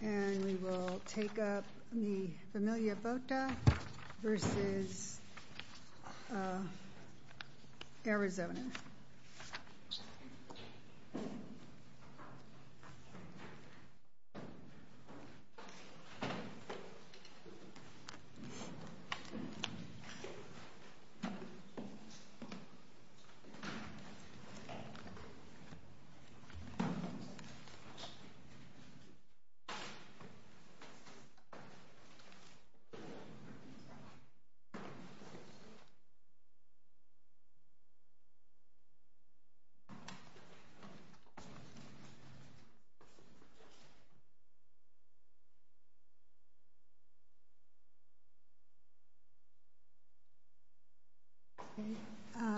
and we will take up the Familia Vota v. Arizona.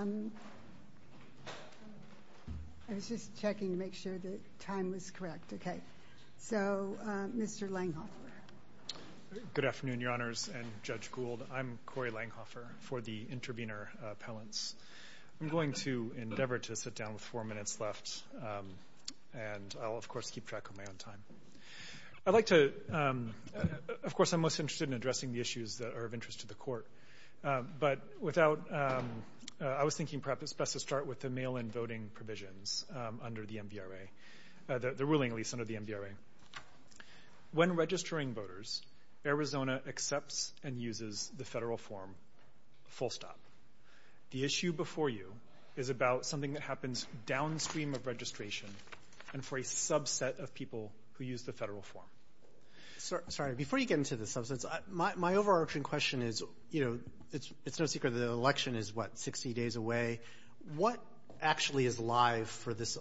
I was just checking to make sure the time was correct, okay. So, Mr. Langhofer. Good afternoon, Your Honors and Judge Gould. I'm Corey Langhofer for the Intervenor Appellants. I'm going to endeavor to sit down with four minutes left and I'll, of course, keep track of my own time. I'd like to, of course, I'm most interested in addressing the issues that are of interest to the Court, but without, I was thinking perhaps it's best to start with the mail-in voting provisions under the MBRA, the ruling lease under the MBRA. When registering voters, Arizona accepts and uses the federal form, full stop. The issue before you is about something that happens downstream of registration and for a subset of people who use the federal form. Sorry, before you get into the substance, my overarching question is, you know, it's no secret that the election is, what, 60 days away. What actually is live for this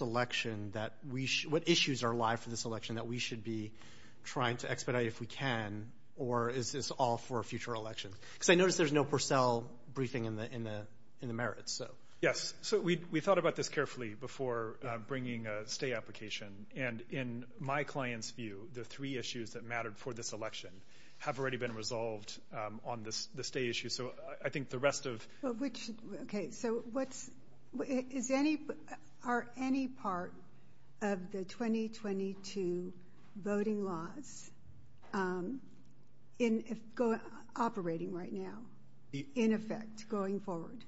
election that we, what issues are live for this election that we should be trying to expedite if we can, or is this all for a future election? Because I notice there's no Purcell briefing in the merits, so. Yes, so we thought about this carefully before bringing a stay application and in my client's view, the three issues that mattered for this election have already been resolved on the stay issue. So, I think the rest of. But which, okay, so what's, is any, are any part of the 2022 voting laws in, operating right now, in effect, going forward?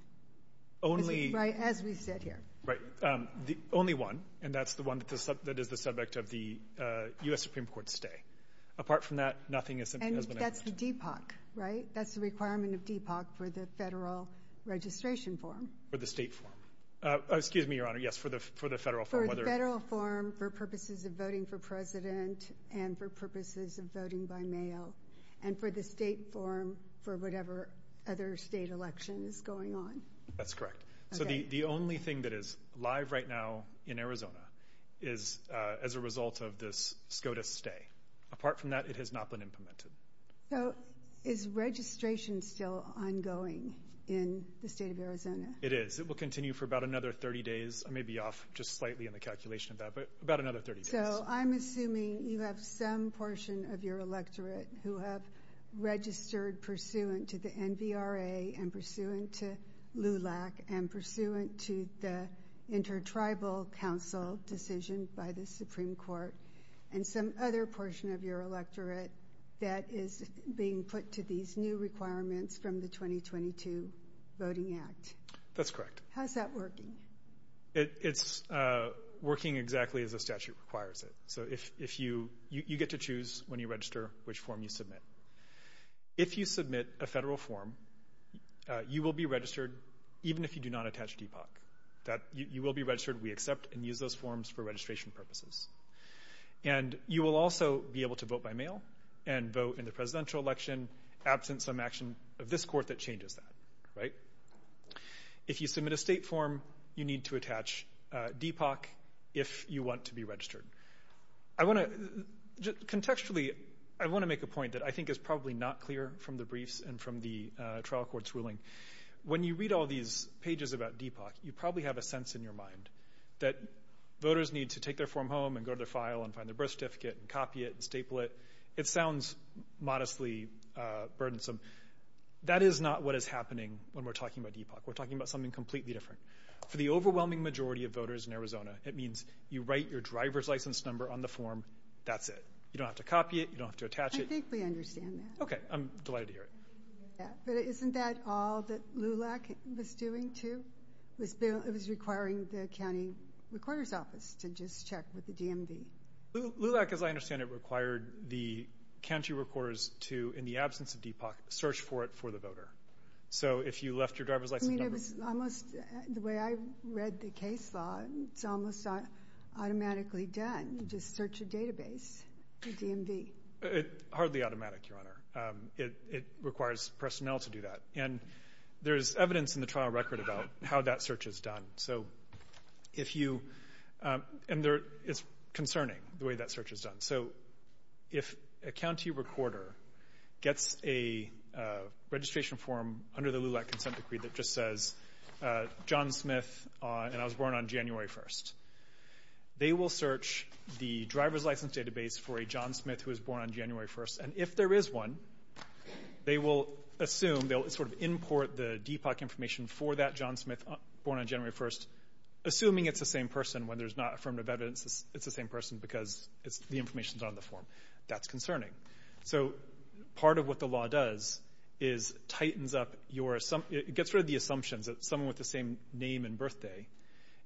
Only. Right, as we said here. Right. The only one, and that's the one that is the subject of the U.S. Supreme Court stay. Apart from that, nothing has been. And that's the DPOC, right? That's the requirement of DPOC for the federal registration form. For the state form. Oh, excuse me, Your Honor, yes, for the, for the federal form, whether. For the federal form, for purposes of voting for president and for purposes of voting by mail, and for the state form for whatever other state election is going on. That's correct. Okay. So, the, the only thing that is live right now in Arizona is, as a result of this SCOTUS stay. Apart from that, it has not been implemented. So, is registration still ongoing in the state of Arizona? It is. It will continue for about another 30 days. I may be off just slightly in the calculation of that, but about another 30 days. So, I'm assuming you have some portion of your electorate who have registered pursuant to the NVRA and pursuant to LULAC and pursuant to the intertribal council decision by the Supreme Court, and some other portion of your electorate that is being put to these new requirements from the 2022 Voting Act. That's correct. How's that working? It, it's working exactly as the statute requires it. So, if, if you, you, you get to choose when you register which form you submit. If you submit a federal form, you will be registered even if you do not attach DPOC. That, you, you will be registered, we accept, and use those forms for registration purposes. And you will also be able to vote by mail and vote in the presidential election absent some action of this court that changes that, right? If you submit a state form, you need to attach DPOC if you want to be registered. I want to, just contextually, I want to make a point that I think is probably not clear from the briefs and from the trial court's ruling. When you read all these pages about DPOC, you probably have a sense in your mind that voters need to take their form home and go to their file and find their birth certificate and copy it and staple it. It sounds modestly burdensome. That is not what is happening when we're talking about DPOC. We're talking about something completely different. For the overwhelming majority of voters in Arizona, it means you write your driver's license number on the form, that's it. You don't have to copy it. You don't have to attach it. I think we understand that. Okay. I'm delighted to hear it. But isn't that all that LULAC was doing, too? It was requiring the county recorder's office to just check with the DMV. LULAC, as I understand it, required the county recorders to, in the absence of DPOC, search for it for the voter. If you left your driver's license number... I mean, it was almost, the way I read the case law, it's almost automatically done. You just search a database, a DMV. It's hardly automatic, Your Honor. It requires personnel to do that. And there's evidence in the trial record about how that search is done. So, if you... and it's concerning, the way that search is done. So, if a county recorder gets a registration form under the LULAC consent decree that just says, John Smith, and I was born on January 1st, they will search the driver's license database for a John Smith who was born on January 1st, and if there is one, they will assume, they'll sort of import the DPOC information for that John Smith born on January 1st, assuming it's the same person. When there's not affirmative evidence, it's the same person because the information's on the form. That's concerning. So, part of what the law does is tightens up your... it gets rid of the assumptions that someone with the same name and birthday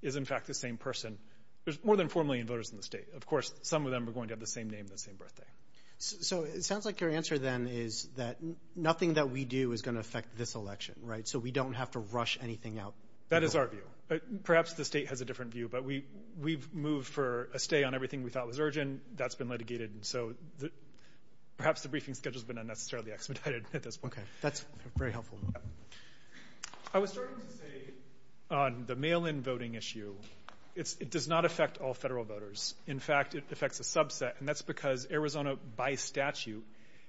is, in fact, the same person. There's more than 4 million voters in the state. Of course, some of them are going to have the same name and the same birthday. So, it sounds like your answer then is that nothing that we do is going to affect this election, right? So, we don't have to rush anything out. That is our view. Perhaps the state has a different view, but we've moved for a stay on everything we thought was urgent. That's been litigated. So, perhaps the briefing schedule's been unnecessarily expedited at this point. Okay. That's very helpful. I was starting to say on the mail-in voting issue, it does not affect all federal voters. In fact, it affects a subset, and that's because Arizona, by statute,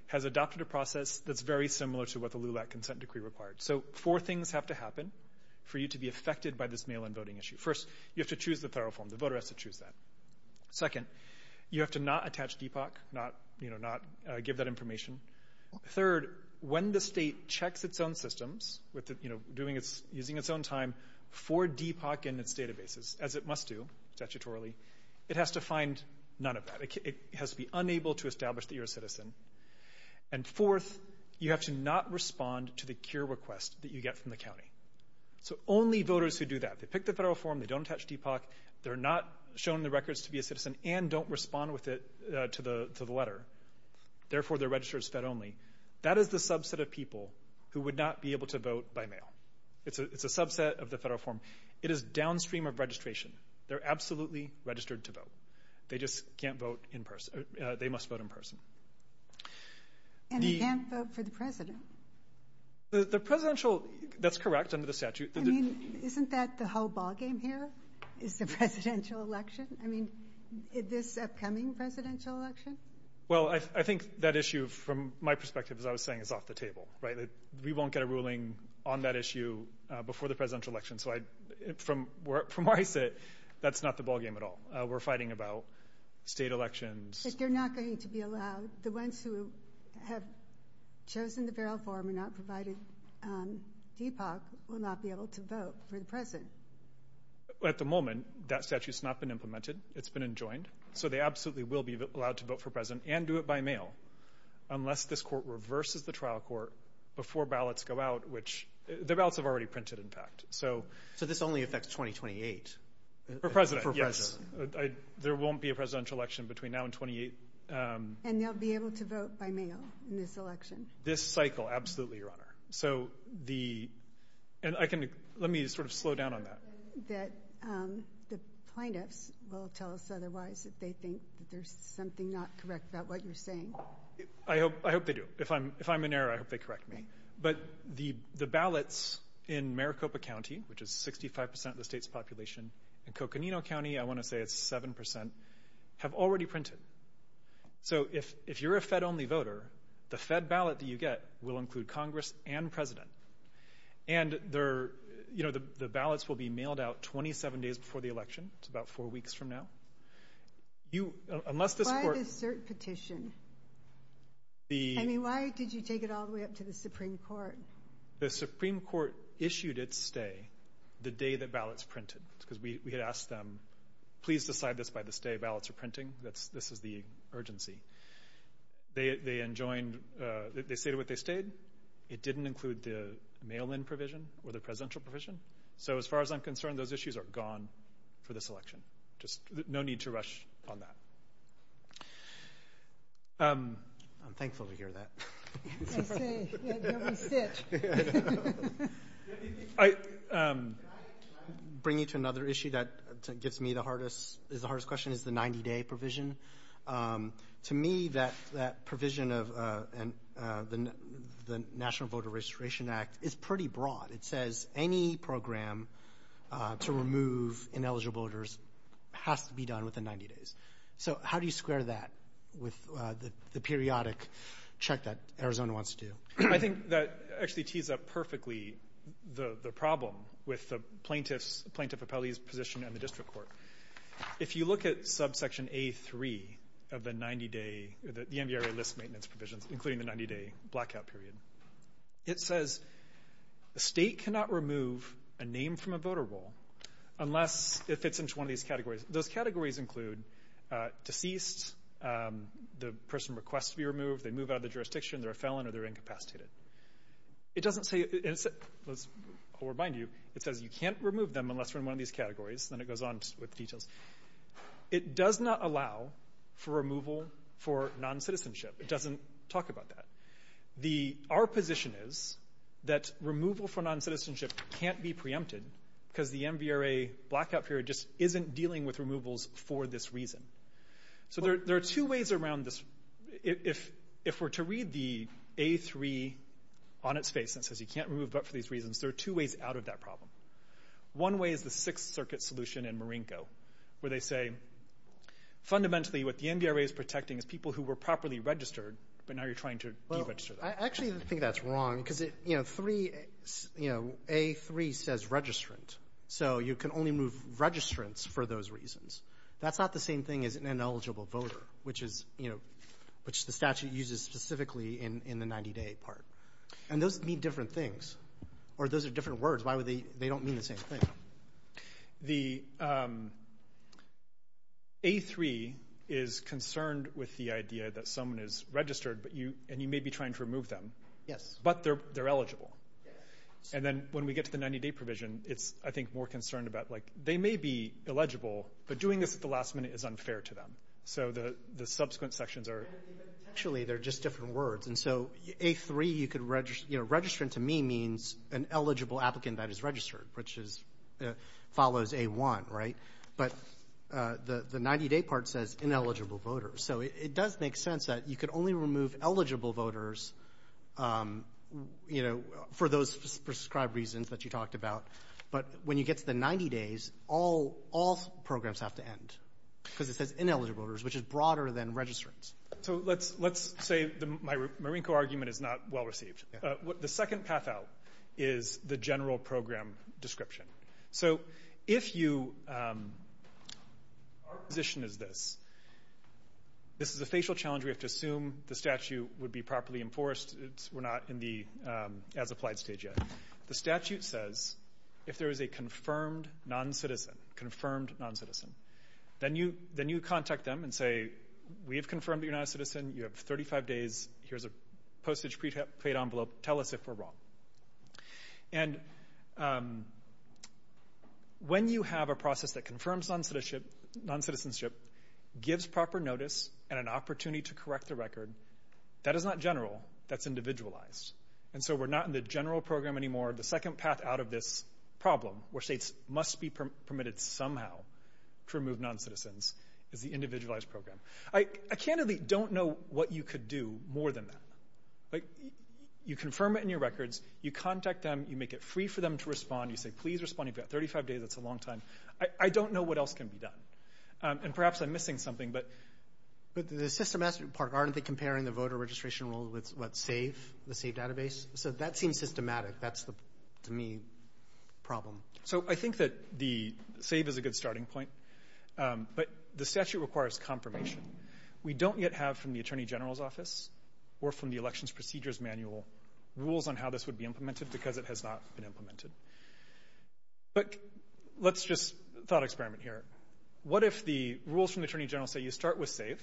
has adopted a process that's very similar to what the LULAC consent decree required. So, four things have to happen for you to be affected by this mail-in voting issue. First, you have to choose the federal form. The voter has to choose that. Second, you have to not attach DPOC, not give that information. Third, when the state checks its own systems, using its own time, for DPOC and its databases, as it must do, statutorily, it has to find none of that. It has to be unable to establish that you're a citizen. And fourth, you have to not respond to the cure request that you get from the county. So, only voters who do that. They pick the federal form. They don't attach DPOC. They're not shown the records to be a citizen and don't respond with it to the letter. Therefore, they're registered as fed only. That is the subset of people who would not be able to vote by mail. It's a subset of the federal form. It is downstream of registration. They're absolutely registered to vote. They just can't vote in person. They must vote in person. And they can't vote for the president? The presidential, that's correct under the statute. I mean, isn't that the whole ballgame here is the presidential election? I mean, this upcoming presidential election? Well, I think that issue, from my perspective, as I was saying, is off the table. We won't get a ruling on that issue before the presidential election. So, from where I sit, that's not the ballgame at all. We're fighting about state elections. But they're not going to be allowed? The ones who have chosen the federal form and not provided DPOC will not be able to vote for the president? At the moment, that statute has not been implemented. It's been enjoined. So, they absolutely will be allowed to vote for president and do it by mail unless this court reverses the trial court before ballots go out, which the ballots have already printed, in fact. So, this only affects 2028? For president, yes. There won't be a presidential election between now and 2028. And they'll be able to vote by mail in this election? This cycle, absolutely, Your Honor. So, the – and I can – let me sort of slow down on that. That the plaintiffs will tell us otherwise if they think there's something not correct about what you're saying? I hope they do. If I'm in error, I hope they correct me. But the ballots in Maricopa County, which is 65% of the state's population, and Coconino County, I want to say it's 7%, have already printed. So, if you're a Fed-only voter, the Fed ballot that you get will include Congress and president. And the ballots will be mailed out 27 days before the election. It's about four weeks from now. Unless this court – Why the cert petition? I mean, why did you take it all the way up to the Supreme Court? The Supreme Court issued its stay the day the ballots printed. Because we had asked them, please decide this by the day ballots are printing. This is the urgency. They enjoined – they stated what they stayed. It didn't include the mail-in provision or the presidential provision. So, as far as I'm concerned, those issues are gone for this election. No need to rush on that. I'm thankful to hear that. I say, let me sit. Bringing to another issue that gives me the hardest – is the hardest question is the 90-day provision. To me, that provision of the National Voter Registration Act is pretty broad. It says any program to remove ineligible voters has to be done within 90 days. So, how do you square that with the periodic check that Arizona wants to do? I think that actually tees up perfectly the problem with the plaintiff's – the plaintiff appellee's position in the district court. If you look at subsection A3 of the 90-day – the NVRA list maintenance provisions, including the 90-day blackout period, it says a state cannot remove a name from a voter roll unless it fits into one of these categories. Those categories include deceased, the person requests to be removed, they move out of the jurisdiction, they're a felon, or they're incapacitated. It doesn't say – I'll remind you – it says you can't remove them unless they're in one of these categories. Then it goes on with details. It does not allow for removal for non-citizenship. It doesn't talk about that. Our position is that removal for non-citizenship can't be preempted because the NVRA blackout period just isn't dealing with removals for this reason. So there are two ways around this. If we're to read the A3 on its face that says you can't remove but for these reasons, there are two ways out of that problem. One way is the Sixth Circuit solution in Marinko where they say, fundamentally, what the NVRA is protecting is people who were properly registered, but now you're trying to deregister them. I actually think that's wrong because A3 says registrant, so you can only move registrants for those reasons. That's not the same thing as an ineligible voter, which the statute uses specifically in the 90-day part. Those mean different things, or those are different words. Why would they – they don't mean the same thing. The A3 is concerned with the idea that someone is registered, and you may be trying to remove them, but they're eligible. And then when we get to the 90-day provision, it's, I think, more concerned about they may be eligible, but doing this at the last minute is unfair to them. So the subsequent sections are – Actually, they're just different words. And so A3, you could – registrant to me means an eligible applicant that is registered, which follows A1, right? But the 90-day part says ineligible voters. So it does make sense that you could only remove eligible voters for those prescribed reasons that you talked about. But when you get to the 90 days, all programs have to end because it says ineligible voters, which is broader than registrants. So let's say the Marinko argument is not well received. The second path out is the general program description. So if you – our position is this. This is a facial challenge. We have to assume the statute would be properly enforced. We're not in the as-applied stage yet. The statute says if there is a confirmed non-citizen, confirmed non-citizen, then you contact them and say, we have confirmed that you're not a citizen. You have 35 days. Here's a postage-paid envelope. Tell us if we're wrong. And when you have a process that confirms non-citizenship, gives proper notice, and an opportunity to correct the record, that is not general. That's individualized. And so we're not in the general program anymore. The second path out of this problem, where states must be permitted somehow to remove non-citizens, is the individualized program. I candidly don't know what you could do more than that. You confirm it in your records. You contact them. You make it free for them to respond. You say, please respond. You've got 35 days. That's a long time. I don't know what else can be done. And perhaps I'm missing something. But the systematic part, aren't they comparing the voter registration roll with, what, SAVE, the SAVE database? So that seems systematic. That's the, to me, problem. So I think that the SAVE is a good starting point. But the statute requires confirmation. We don't yet have from the Attorney General's office or from the Elections Procedures Manual rules on how this would be implemented, because it has not been implemented. But let's just thought experiment here. What if the rules from the Attorney General say you start with SAVE,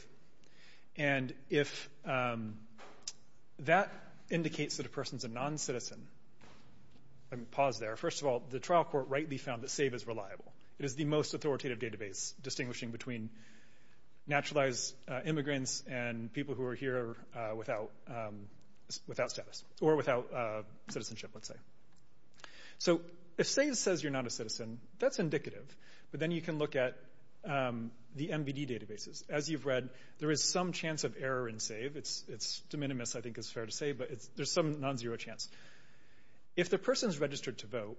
and if that indicates that a person's a non-citizen? I'm going to pause there. First of all, the trial court rightly found that SAVE is reliable. It is the most authoritative database, distinguishing between naturalized immigrants and people who are here without status or without citizenship, let's say. So if SAVE says you're not a citizen, that's indicative. But then you can look at the MBD databases. As you've read, there is some chance of error in SAVE. It's de minimis, I think is fair to say, but there's some non-zero chance. If the person's registered to vote,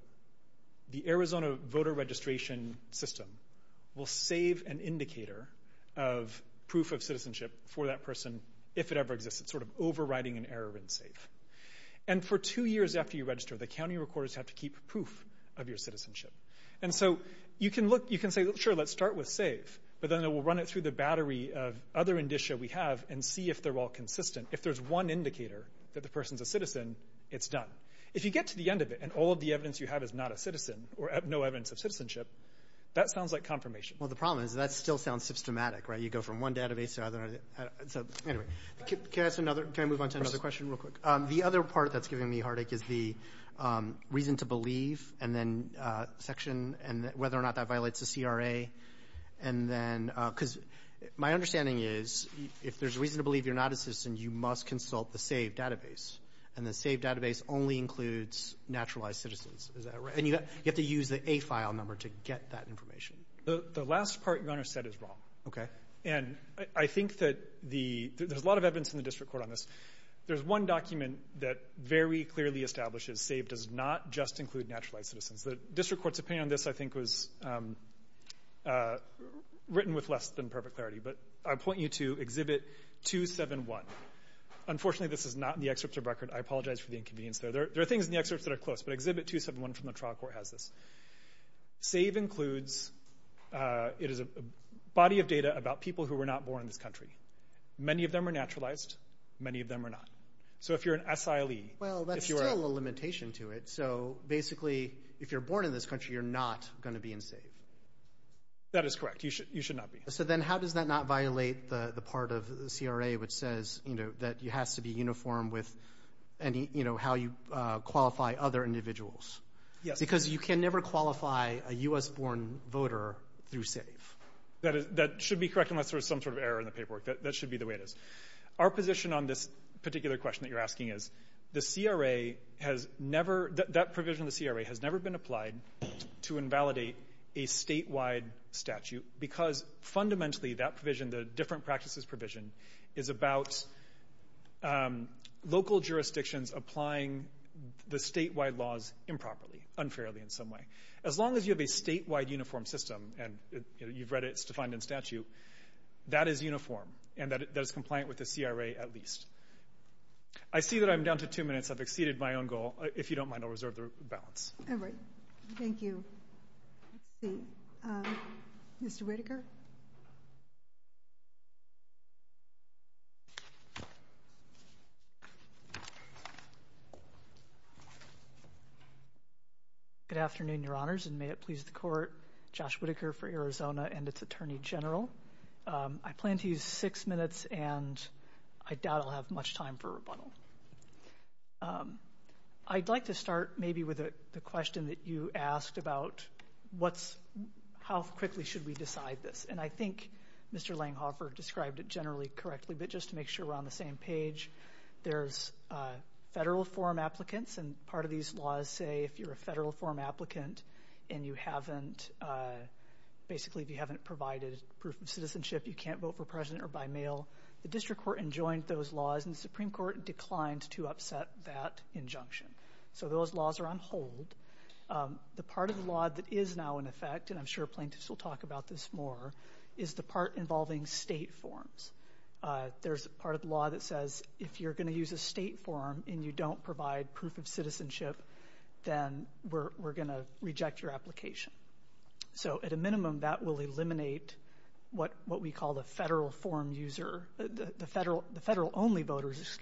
the Arizona voter registration system will save an indicator of proof of citizenship for that person if it ever exists. It's sort of overriding an error in SAVE. And for two years after you register, the county recorders have to keep proof of your citizenship. And so you can say, sure, let's start with SAVE, but then it will run it through the battery of other indicia we have and see if they're all consistent. If there's one indicator that the person's a citizen, it's done. If you get to the end of it and all of the evidence you have is not a citizen or no evidence of citizenship, that sounds like confirmation. Well, the problem is that still sounds systematic. You go from one database to another. Anyway, can I move on to another question real quick? The other part that's giving me heartache is the reason to believe and then whether or not that violates the CRA. Because my understanding is if there's a reason to believe you're not a citizen, you must consult the SAVE database. And the SAVE database only includes naturalized citizens. Is that right? And you have to use the A file number to get that information. The last part your Honor said is wrong. Okay. And I think that there's a lot of evidence in the district court on this. There's one document that very clearly establishes SAVE does not just include naturalized citizens. The district court's opinion on this, I think, was written with less than perfect clarity. But I point you to Exhibit 271. Unfortunately, this is not in the excerpts of record. I apologize for the inconvenience there. There are things in the excerpts that are close, but Exhibit 271 from the trial court has this. SAVE includes a body of data about people who were not born in this country. Many of them are naturalized. Many of them are not. So if you're an SILE. Well, that's still a limitation to it. So basically, if you're born in this country, you're not going to be in SAVE. That is correct. You should not be. So then how does that not violate the part of CRA which says that it has to be uniform with how you qualify other individuals? Yes. Because you can never qualify a U.S.-born voter through SAVE. That should be correct unless there's some sort of error in the paperwork. That should be the way it is. Our position on this particular question that you're asking is that provision in the CRA has never been applied to invalidate a statewide statute because fundamentally that provision, the different practices provision, is about local jurisdictions applying the statewide laws improperly, unfairly in some way. As long as you have a statewide uniform system, and you've read it, it's defined in statute, that is uniform and that is compliant with the CRA at least. I see that I'm down to two minutes. I've exceeded my own goal. If you don't mind, I'll reserve the balance. All right. Thank you. Let's see. Mr. Whitaker? Good afternoon, Your Honors, and may it please the Court. Josh Whitaker for Arizona and its Attorney General. I plan to use six minutes, and I doubt I'll have much time for rebuttal. I'd like to start maybe with the question that you asked about how quickly should we decide this. I think Mr. Langhofer described it generally correctly, but just to make sure we're on the same page, there's federal form applicants, and part of these laws say if you're a federal form applicant and you haven't provided proof of citizenship, you can't vote for president or by mail. The district court enjoined those laws, and the Supreme Court declined to upset that injunction. So those laws are on hold. The part of the law that is now in effect, and I'm sure plaintiffs will talk about this more, is the part involving state forms. There's part of the law that says if you're going to use a state form and you don't provide proof of citizenship, then we're going to reject your application. So at a minimum, that will eliminate what we call the federal only voters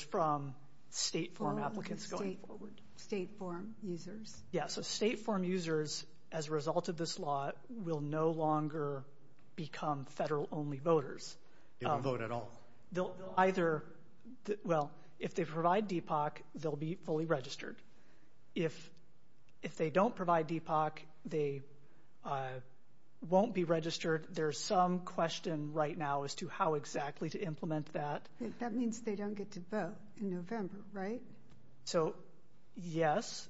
from state form applicants going forward. State form users? Yeah, so state form users, as a result of this law, will no longer become federal only voters. They don't vote at all? Well, if they provide DPOC, they'll be fully registered. If they don't provide DPOC, they won't be registered. There's some question right now as to how exactly to implement that. That means they don't get to vote in November, right? So, yes.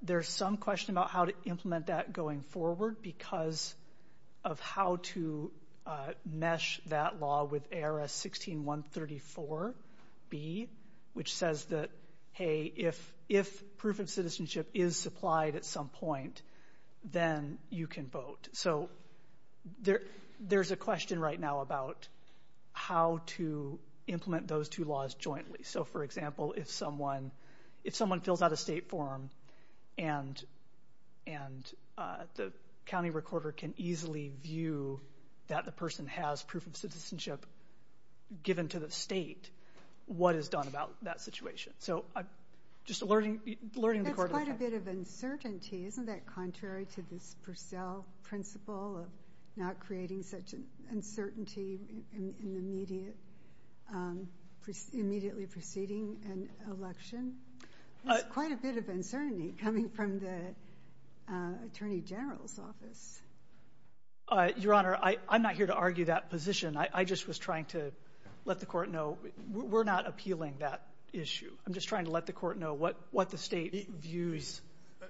There's some question about how to implement that going forward because of how to mesh that law with ARS 16134B, which says that, hey, if proof of citizenship is supplied at some point, then you can vote. So there's a question right now about how to implement those two laws jointly. So, for example, if someone fills out a state form and the county recorder can easily view that the person has proof of citizenship given to the state, what is done about that situation? So I'm just alerting the court. That's quite a bit of uncertainty. Isn't that contrary to this Purcell principle of not creating such uncertainty in the immediately preceding an election? That's quite a bit of uncertainty coming from the Attorney General's office. Your Honor, I'm not here to argue that position. I just was trying to let the court know we're not appealing that issue. I'm just trying to let the court know what the state views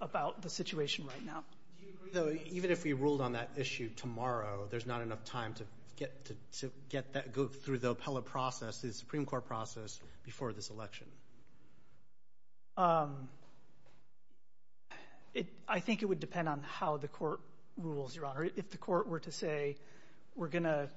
about the situation right now. Do you agree, though, even if we ruled on that issue tomorrow, there's not enough time to get that through the appellate process, the Supreme Court process, before this election? I think it would depend on how the court rules, Your Honor. If the court were to say we're going to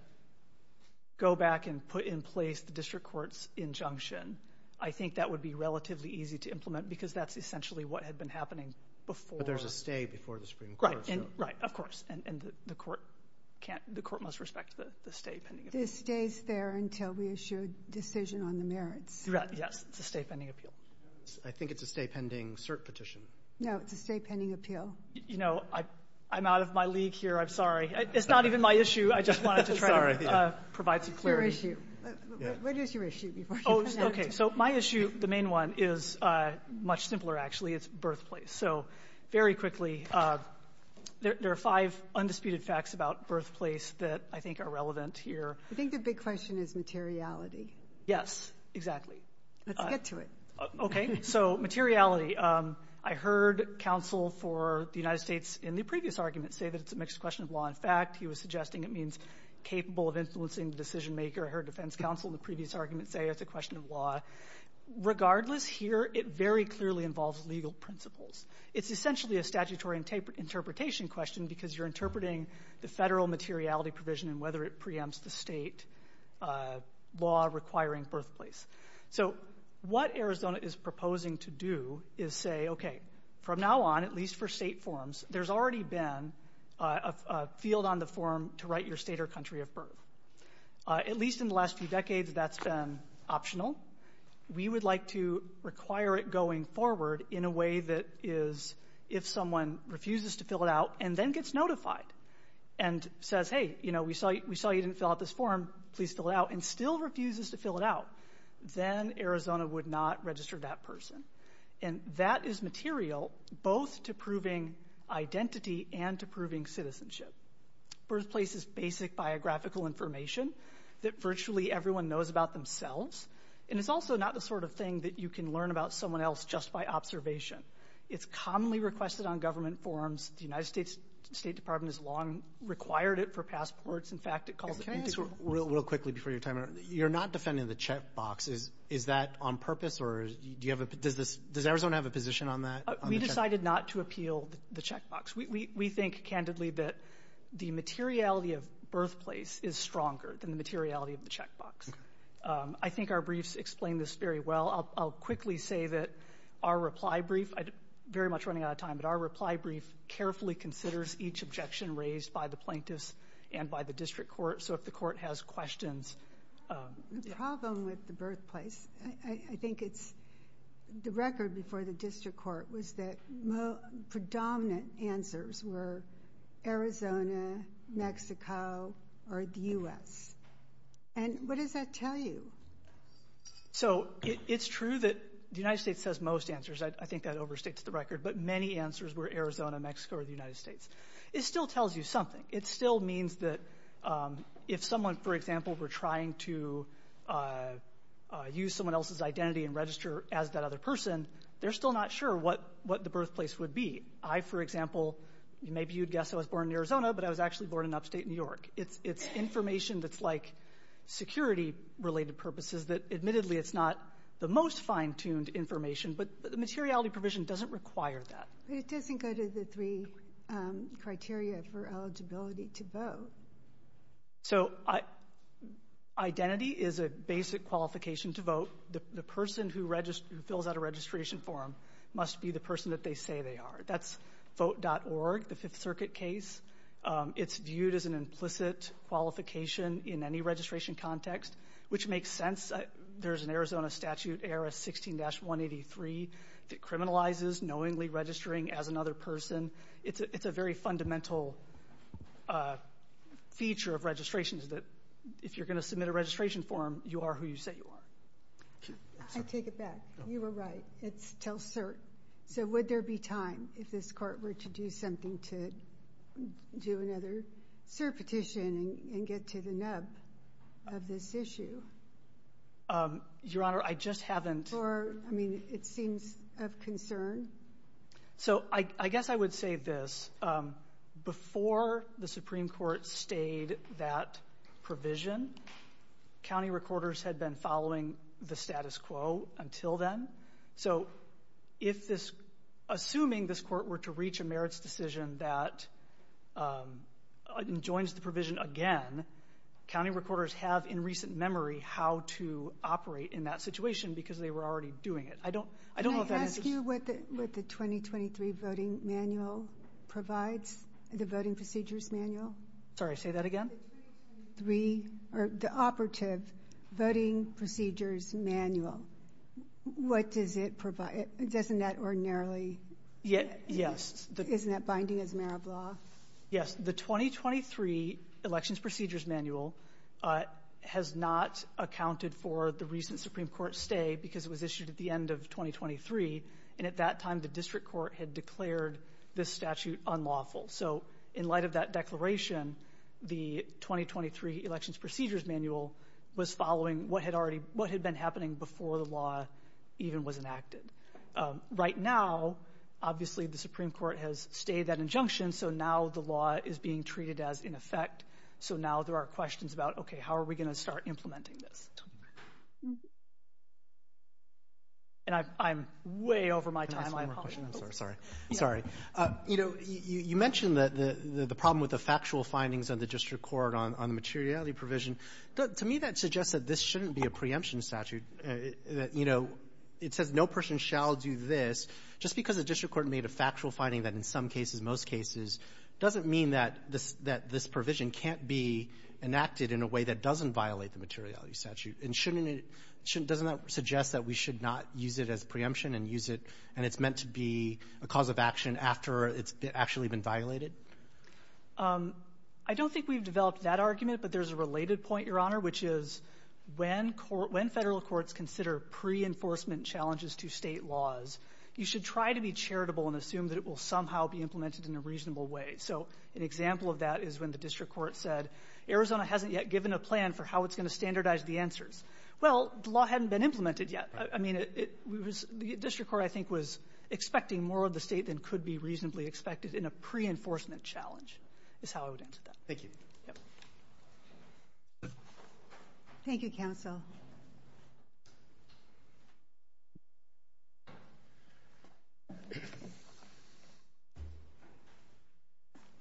go back and put in place the district court's injunction, I think that would be relatively easy to implement because that's essentially what had been happening before. But there's a stay before the Supreme Court. Right, of course, and the court must respect the stay pending appeal. The stay's there until we issue a decision on the merits. Yes, it's a stay pending appeal. I think it's a stay pending cert petition. No, it's a stay pending appeal. You know, I'm out of my league here. I'm sorry. It's not even my issue. I just wanted to try to provide some clarity. What is your issue? Okay, so my issue, the main one, is much simpler, actually. It's birthplace. So very quickly, there are five undisputed facts about birthplace that I think are relevant here. I think the big question is materiality. Yes, exactly. Let's get to it. Okay, so materiality. I heard counsel for the United States in the previous argument say that it's a mixed question of law and fact. He was suggesting it means capable of influencing the decision maker. I heard defense counsel in the previous argument say it's a question of law. Regardless, here it very clearly involves legal principles. It's essentially a statutory interpretation question because you're interpreting the federal materiality provision and whether it preempts the state law requiring birthplace. So what Arizona is proposing to do is say, okay, from now on, at least for state forms, there's already been a field on the form to write your state or country of birth. At least in the last few decades, that's been optional. We would like to require it going forward in a way that is if someone refuses to fill it out and then gets notified and says, hey, we saw you didn't fill out this form. Please fill it out, and still refuses to fill it out, then Arizona would not register that person. And that is material both to proving identity and to proving citizenship. Birthplace is basic biographical information that virtually everyone knows about themselves, and it's also not the sort of thing that you can learn about someone else just by observation. It's commonly requested on government forms. The United States State Department has long required it for passports. In fact, it calls it integral. Can I ask real quickly before you time out? You're not defending the checkbox. Is that on purpose, or does Arizona have a position on that? We decided not to appeal the checkbox. We think, candidly, that the materiality of birthplace is stronger than the materiality of the checkbox. I think our briefs explain this very well. I'll quickly say that our reply brief, very much running out of time, but our reply brief carefully considers each objection raised by the plaintiffs and by the district court. So if the court has questions. The problem with the birthplace, I think it's the record before the district court, was that predominant answers were Arizona, Mexico, or the U.S. And what does that tell you? So it's true that the United States has most answers. I think that overstates the record. But many answers were Arizona, Mexico, or the United States. It still tells you something. It still means that if someone, for example, were trying to use someone else's identity and register as that other person, they're still not sure what the birthplace would be. I, for example, maybe you'd guess I was born in Arizona, but I was actually born in upstate New York. It's information that's like security-related purposes, that admittedly it's not the most fine-tuned information, but the materiality provision doesn't require that. It doesn't go to the three criteria for eligibility to vote. So identity is a basic qualification to vote. The person who fills out a registration form must be the person that they say they are. That's vote.org, the Fifth Circuit case. It's viewed as an implicit qualification in any registration context, which makes sense. There's an Arizona statute, ARS 16-183, that criminalizes knowingly registering as another person. It's a very fundamental feature of registration, that if you're going to submit a registration form, you are who you say you are. I take it back. You were right. It tells cert. So would there be time if this court were to do something to do another cert petition and get to the nub of this issue? Your Honor, I just haven't. Or, I mean, it seems of concern. So I guess I would say this. Before the Supreme Court stayed that provision, county recorders had been following the status quo until then. So assuming this court were to reach a merits decision that joins the provision again, county recorders have in recent memory how to operate in that situation because they were already doing it. I don't know if that answers your question. Can I ask you what the 2023 Voting Procedures Manual provides? Sorry, say that again? The 2023 or the operative Voting Procedures Manual. What does it provide? Doesn't that ordinarily? Yes. Isn't that binding as Mara Braw? Yes. The 2023 Elections Procedures Manual has not accounted for the recent Supreme Court stay because it was issued at the end of 2023. And at that time, the district court had declared this statute unlawful. So in light of that declaration, the 2023 Elections Procedures Manual was following what had been happening before the law even was enacted. Right now, obviously, the Supreme Court has stayed that injunction. So now the law is being treated as in effect. So now there are questions about, okay, how are we going to start implementing this? And I'm way over my time. Can I ask one more question? I'm sorry. Sorry. You know, you mentioned the problem with the factual findings of the district court on the materiality provision. To me, that suggests that this shouldn't be a preemption statute. You know, it says no person shall do this. Just because the district court made a factual finding that in some cases, most cases, doesn't mean that this provision can't be enacted in a way that doesn't violate the materiality statute. Doesn't that suggest that we should not use it as preemption and use it and it's meant to be a cause of action after it's actually been violated? I don't think we've developed that argument, but there's a related point, Your Honor, which is when federal courts consider pre-enforcement challenges to state laws, you should try to be charitable and assume that it will somehow be implemented in a reasonable way. So an example of that is when the district court said, Arizona hasn't yet given a plan for how it's going to standardize the answers. Well, the law hadn't been implemented yet. I mean, the district court, I think, was expecting more of the state than could be reasonably expected in a pre-enforcement challenge is how I would answer that. Thank you. Thank you, counsel.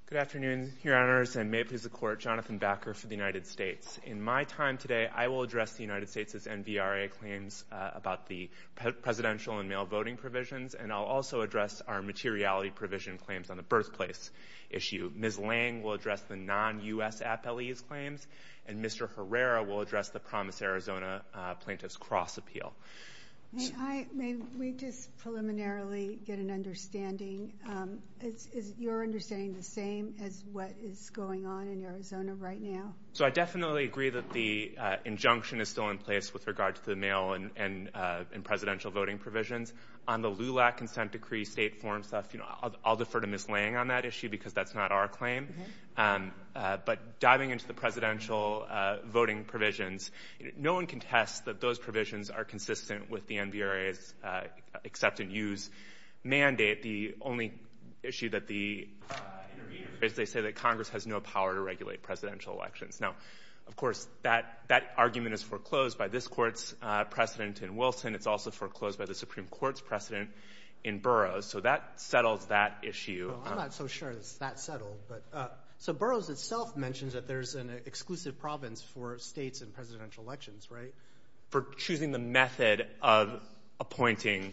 Good afternoon, Your Honors, and may it please the Court, Jonathan Backer for the United States. In my time today, I will address the United States' NVRA claims about the presidential and mail voting provisions, and I'll also address our materiality provision claims on the birthplace issue. Ms. Lange will address the non-U.S. appellees' claims, and Mr. Herrera will address the Promise Arizona plaintiff's cross appeal. May we just preliminarily get an understanding? Is your understanding the same as what is going on in Arizona right now? So I definitely agree that the injunction is still in place with regard to the mail and presidential voting provisions. On the LULAC consent decree, state form stuff, I'll defer to Ms. Lange on that issue because that's not our claim. But diving into the presidential voting provisions, no one can test that those provisions are consistent with the NVRA's accept and use mandate. The only issue that the NVRA says is that Congress has no power to regulate presidential elections. Now, of course, that argument is foreclosed by this Court's precedent in Wilson. It's also foreclosed by the Supreme Court's precedent in Burroughs. So that settles that issue. I'm not so sure it's that settled. So Burroughs itself mentions that there's an exclusive province for states in presidential elections, right? For choosing the method of appointing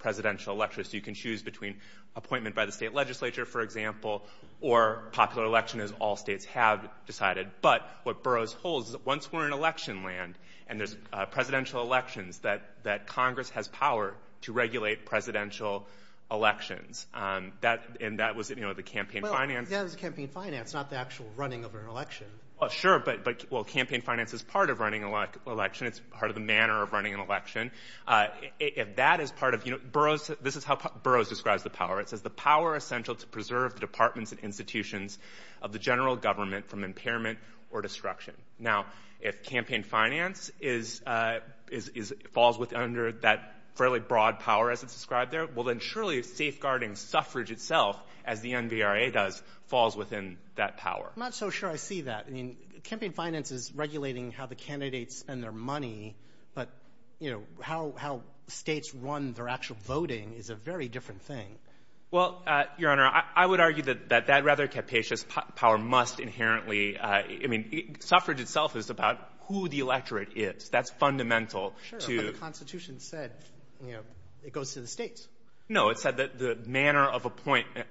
presidential electors. So you can choose between appointment by the state legislature, for example, or popular election as all states have decided. But what Burroughs holds is that once we're in election land and there's presidential elections, that Congress has power to regulate presidential elections. And that was the campaign finance. Well, that was campaign finance, not the actual running of an election. Well, sure. But campaign finance is part of running an election. It's part of the manner of running an election. If that is part of Burroughs, this is how Burroughs describes the power. It says, the power essential to preserve the departments and institutions of the general government from impairment or destruction. Now, if campaign finance falls under that fairly broad power as it's described there, well, then surely safeguarding suffrage itself, as the NVRA does, falls within that power. I'm not so sure I see that. Campaign finance is regulating how the candidates spend their money. But how states run their actual voting is a very different thing. Well, Your Honor, I would argue that that rather capacious power must inherently ‑‑ I mean, suffrage itself is about who the electorate is. That's fundamental to ‑‑ Sure, but the Constitution said it goes to the states. No, it said the manner of appointment.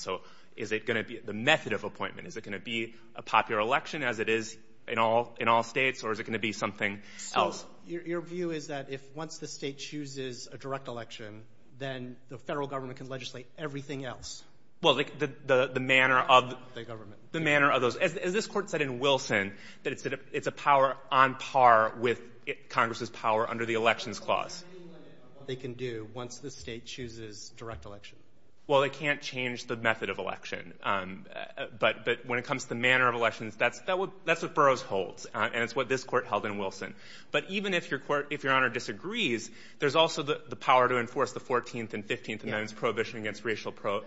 So is it going to be the method of appointment? Is it going to be a popular election as it is in all states, or is it going to be something else? So your view is that if once the state chooses a direct election, then the federal government can legislate everything else? Well, the manner of ‑‑ The government. The manner of those. As this Court said in Wilson, that it's a power on par with Congress's power under the Elections Clause. What do you mean by that, what they can do once the state chooses direct election? Well, they can't change the method of election. But when it comes to the manner of elections, that's what Burroughs holds, and it's what this Court held in Wilson. But even if Your Honor disagrees, there's also the power to enforce the 14th and 15th Amendments, prohibition against racial ‑‑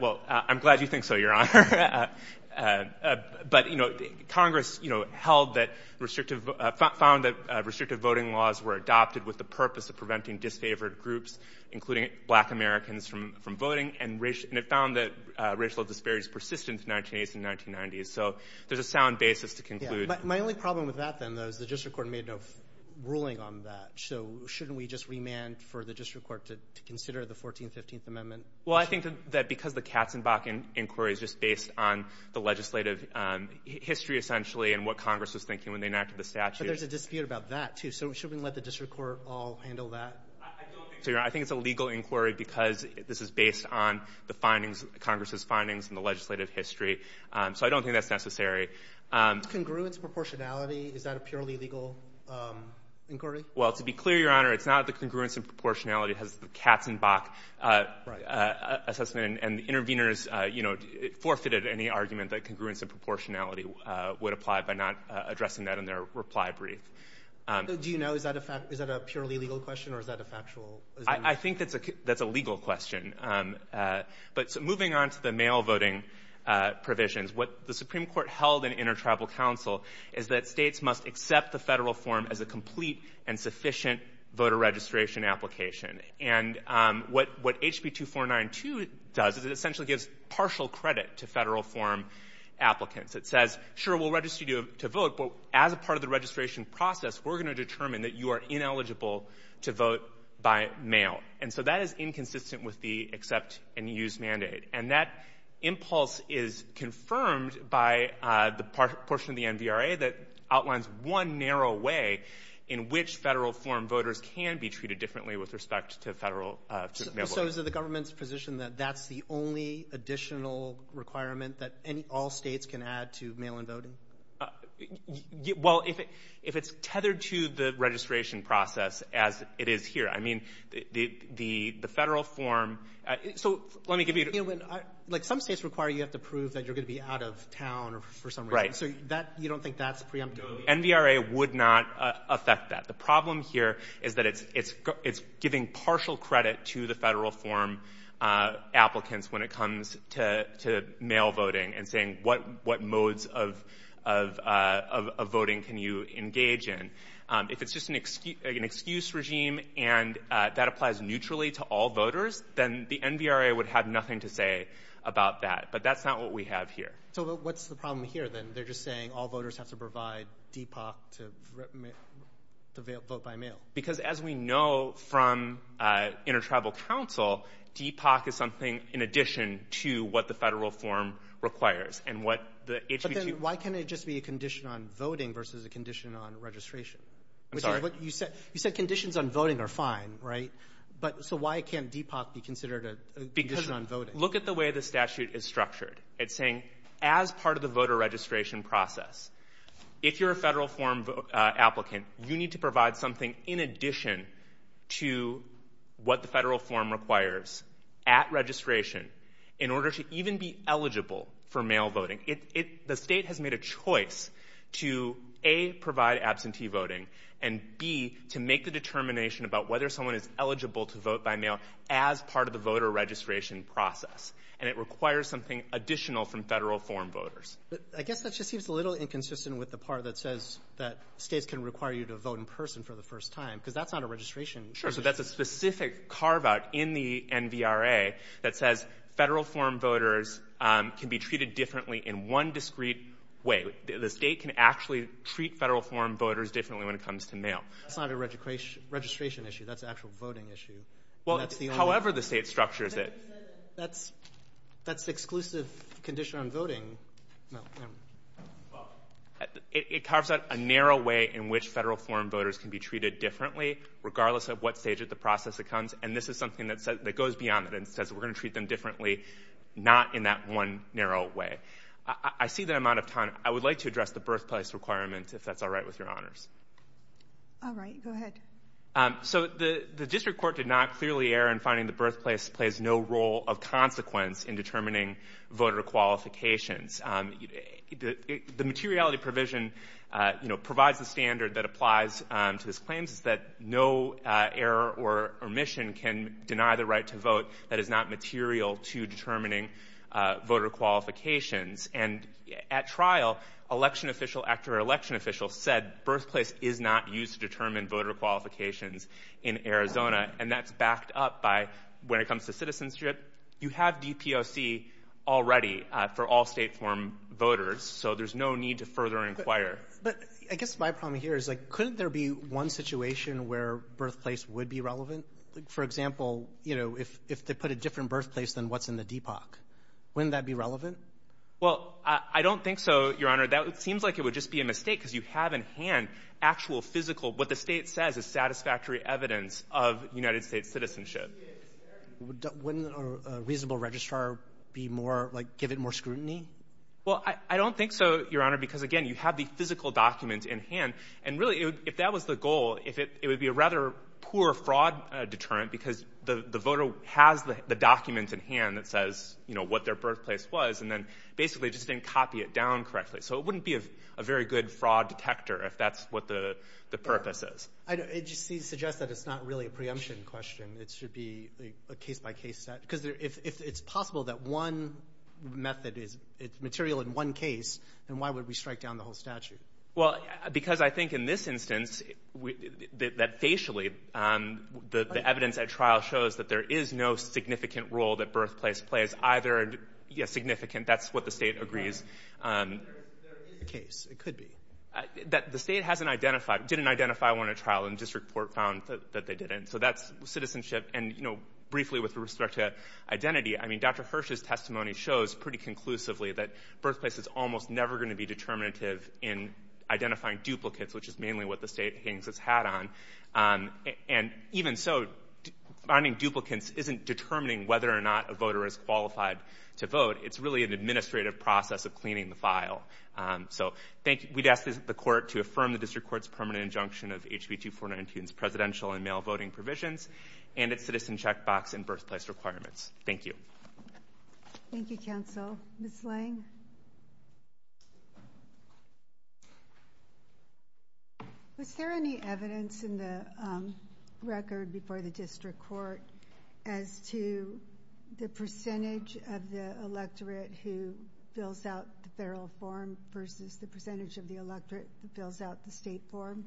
Well, I'm glad you think so, Your Honor. But, you know, Congress, you know, held that restrictive ‑‑ found that restrictive voting laws were adopted with the purpose of preventing disfavored groups, including black Americans, from voting. And it found that racial disparities persisted in the 1980s and 1990s. So there's a sound basis to conclude. My only problem with that, then, though, is the District Court made no ruling on that. So shouldn't we just remand for the District Court to consider the 14th and 15th Amendments? Well, I think that because the Katzenbach Inquiry is just based on the legislative history, essentially, and what Congress was thinking when they enacted the statute. But there's a dispute about that, too. So should we let the District Court all handle that? I don't think so, Your Honor. I think it's a legal inquiry because this is based on the findings, Congress's findings and the legislative history. So I don't think that's necessary. Is congruence proportionality, is that a purely legal inquiry? Well, to be clear, Your Honor, it's not the congruence and proportionality. It has the Katzenbach assessment. And the interveners, you know, forfeited any argument that congruence and proportionality would apply by not addressing that in their reply brief. Do you know, is that a purely legal question or is that a factual? I think that's a legal question. But moving on to the mail voting provisions, what the Supreme Court held in Inter-Tribal Council is that states must accept the federal form as a complete and sufficient voter registration application. And what HB 2492 does is it essentially gives partial credit to federal form applicants. It says, sure, we'll register you to vote, but as a part of the registration process, we're going to determine that you are ineligible to vote by mail. And so that is inconsistent with the accept and use mandate. And that impulse is confirmed by the portion of the NVRA that outlines one narrow way in which federal form voters can be treated differently with respect to federal mail voting. So is it the government's position that that's the only additional requirement that all states can add to mail-in voting? Well, if it's tethered to the registration process as it is here, I mean, the federal form— So let me give you— You know, like some states require you have to prove that you're going to be out of town for some reason. So you don't think that's preemptive? NVRA would not affect that. The problem here is that it's giving partial credit to the federal form applicants when it comes to mail voting and saying what modes of voting can you engage in. If it's just an excuse regime and that applies neutrally to all voters, then the NVRA would have nothing to say about that. But that's not what we have here. So what's the problem here, then? They're just saying all voters have to provide DPOC to vote by mail. Because as we know from Intertribal Council, DPOC is something in addition to what the federal form requires and what the HB 2— But then why can't it just be a condition on voting versus a condition on registration? I'm sorry? You said conditions on voting are fine, right? So why can't DPOC be considered a condition on voting? Look at the way the statute is structured. It's saying as part of the voter registration process, if you're a federal form applicant, you need to provide something in addition to what the federal form requires at registration in order to even be eligible for mail voting. The state has made a choice to, A, provide absentee voting, and, B, to make the determination about whether someone is eligible to vote by mail as part of the voter registration process. And it requires something additional from federal form voters. But I guess that just seems a little inconsistent with the part that says that states can require you to vote in person for the first time, because that's not a registration issue. Sure, so that's a specific carve-out in the NVRA that says federal form voters can be treated differently in one discrete way. The state can actually treat federal form voters differently when it comes to mail. That's not a registration issue. That's an actual voting issue. Well, however the state structures it. That's the exclusive condition on voting. It carves out a narrow way in which federal form voters can be treated differently, regardless of what stage of the process it comes. And this is something that goes beyond that and says we're going to treat them differently, not in that one narrow way. I see the amount of time. I would like to address the birthplace requirement, if that's all right with your honors. All right. Go ahead. So the district court did not clearly err in finding the birthplace plays no role of consequence in determining voter qualifications. The materiality provision provides the standard that applies to this claim, is that no error or omission can deny the right to vote that is not material to determining voter qualifications. And at trial, election official after election official said birthplace is not used to determine voter qualifications in Arizona, and that's backed up by when it comes to citizenship, you have DPOC already for all state form voters, so there's no need to further inquire. But I guess my problem here is, like, couldn't there be one situation where birthplace would be relevant? For example, you know, if they put a different birthplace than what's in the DPOC, wouldn't that be relevant? Well, I don't think so, your honor. That seems like it would just be a mistake because you have in hand actual physical, what the state says is satisfactory evidence of United States citizenship. Wouldn't a reasonable registrar be more, like, give it more scrutiny? Well, I don't think so, your honor, because, again, you have the physical document in hand, and really if that was the goal, it would be a rather poor fraud deterrent because the voter has the document in hand that says, you know, what their birthplace was and then basically just didn't copy it down correctly. So it wouldn't be a very good fraud detector if that's what the purpose is. It just suggests that it's not really a preemption question. It should be a case-by-case set. Because if it's possible that one method is material in one case, then why would we strike down the whole statute? Well, because I think in this instance that facially the evidence at trial shows that there is no significant role that birthplace plays, either significant. That's what the state agrees. There is a case. It could be. The state hasn't identified, didn't identify one at trial, and the district court found that they didn't. So that's citizenship. And, you know, briefly with respect to identity, I mean, Dr. Hirsch's testimony shows pretty conclusively that birthplace is almost never going to be determinative in identifying duplicates, which is mainly what the state hangs its hat on. And even so, finding duplicates isn't determining whether or not a voter is qualified to vote. It's really an administrative process of cleaning the file. So thank you. We'd ask the court to affirm the district court's permanent injunction of HB 2492 and its presidential and mail voting provisions and its citizen checkbox and birthplace requirements. Thank you. Thank you, counsel. Ms. Lang? Was there any evidence in the record before the district court as to the percentage of the electorate who fills out the federal form versus the percentage of the electorate who fills out the state form?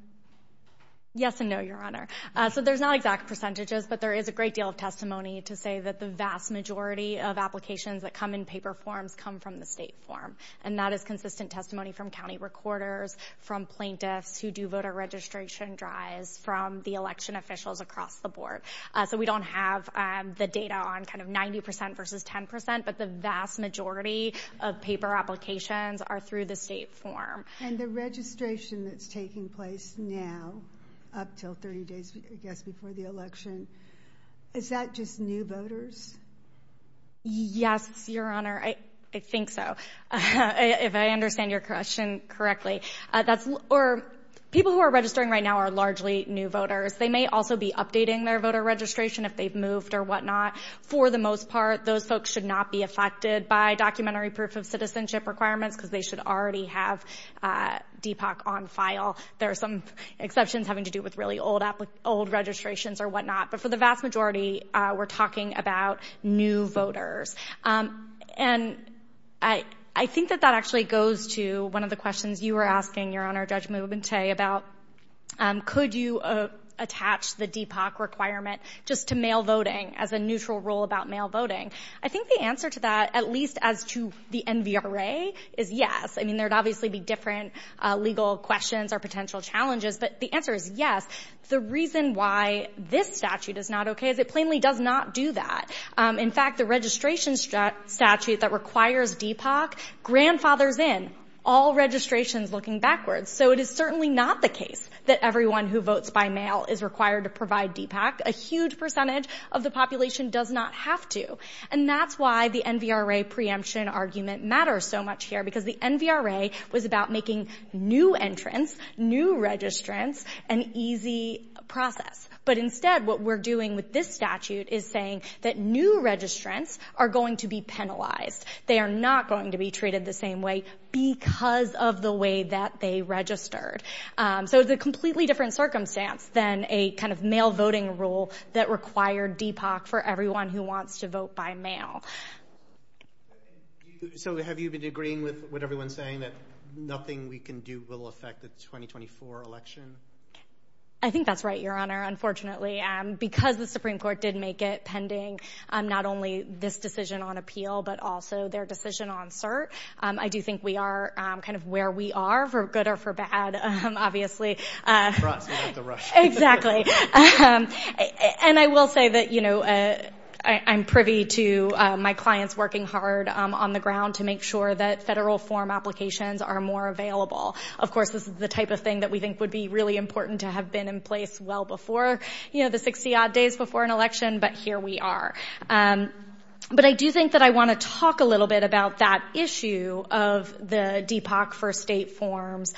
Yes and no, Your Honor. So there's not exact percentages, but there is a great deal of testimony to say that the vast majority of applications that come in paper forms come from the state form. And that is consistent testimony from county recorders, from plaintiffs who do voter registration drives, from the election officials across the board. So we don't have the data on kind of 90% versus 10%, but the vast majority of paper applications are through the state form. And the registration that's taking place now up until 30 days, I guess, before the election, is that just new voters? Yes, Your Honor. I think so, if I understand your question correctly. People who are registering right now are largely new voters. They may also be updating their voter registration if they've moved or whatnot. For the most part, those folks should not be affected by documentary proof of citizenship requirements because they should already have DPOC on file. There are some exceptions having to do with really old registrations or whatnot. But for the vast majority, we're talking about new voters. And I think that that actually goes to one of the questions you were asking, Your Honor, about could you attach the DPOC requirement just to mail voting as a neutral rule about mail voting. I think the answer to that, at least as to the NVRA, is yes. I mean, there would obviously be different legal questions or potential challenges. But the answer is yes. The reason why this statute is not okay is it plainly does not do that. In fact, the registration statute that requires DPOC grandfathers in all registrations looking backwards. So it is certainly not the case that everyone who votes by mail is required to provide DPOC. A huge percentage of the population does not have to. And that's why the NVRA preemption argument matters so much here because the NVRA was about making new entrants, new registrants an easy process. But instead, what we're doing with this statute is saying that new registrants are going to be penalized. They are not going to be treated the same way because of the way that they registered. So it's a completely different circumstance than a kind of mail voting rule that required DPOC for everyone who wants to vote by mail. So have you been agreeing with what everyone's saying that nothing we can do will affect the 2024 election? I think that's right, Your Honor. Unfortunately, because the Supreme Court did make it pending not only this decision on appeal, but also their decision on cert, I do think we are kind of where we are for good or for bad, obviously. And I will say that, you know, I'm privy to my clients working hard on the ground to make sure that federal form applications are more available. Of course, this is the type of thing that we think would be really important to have been in place well before, you know, the 60-odd days before an election, but here we are. But I do think that I want to talk a little bit about that issue of the DPOC for state forms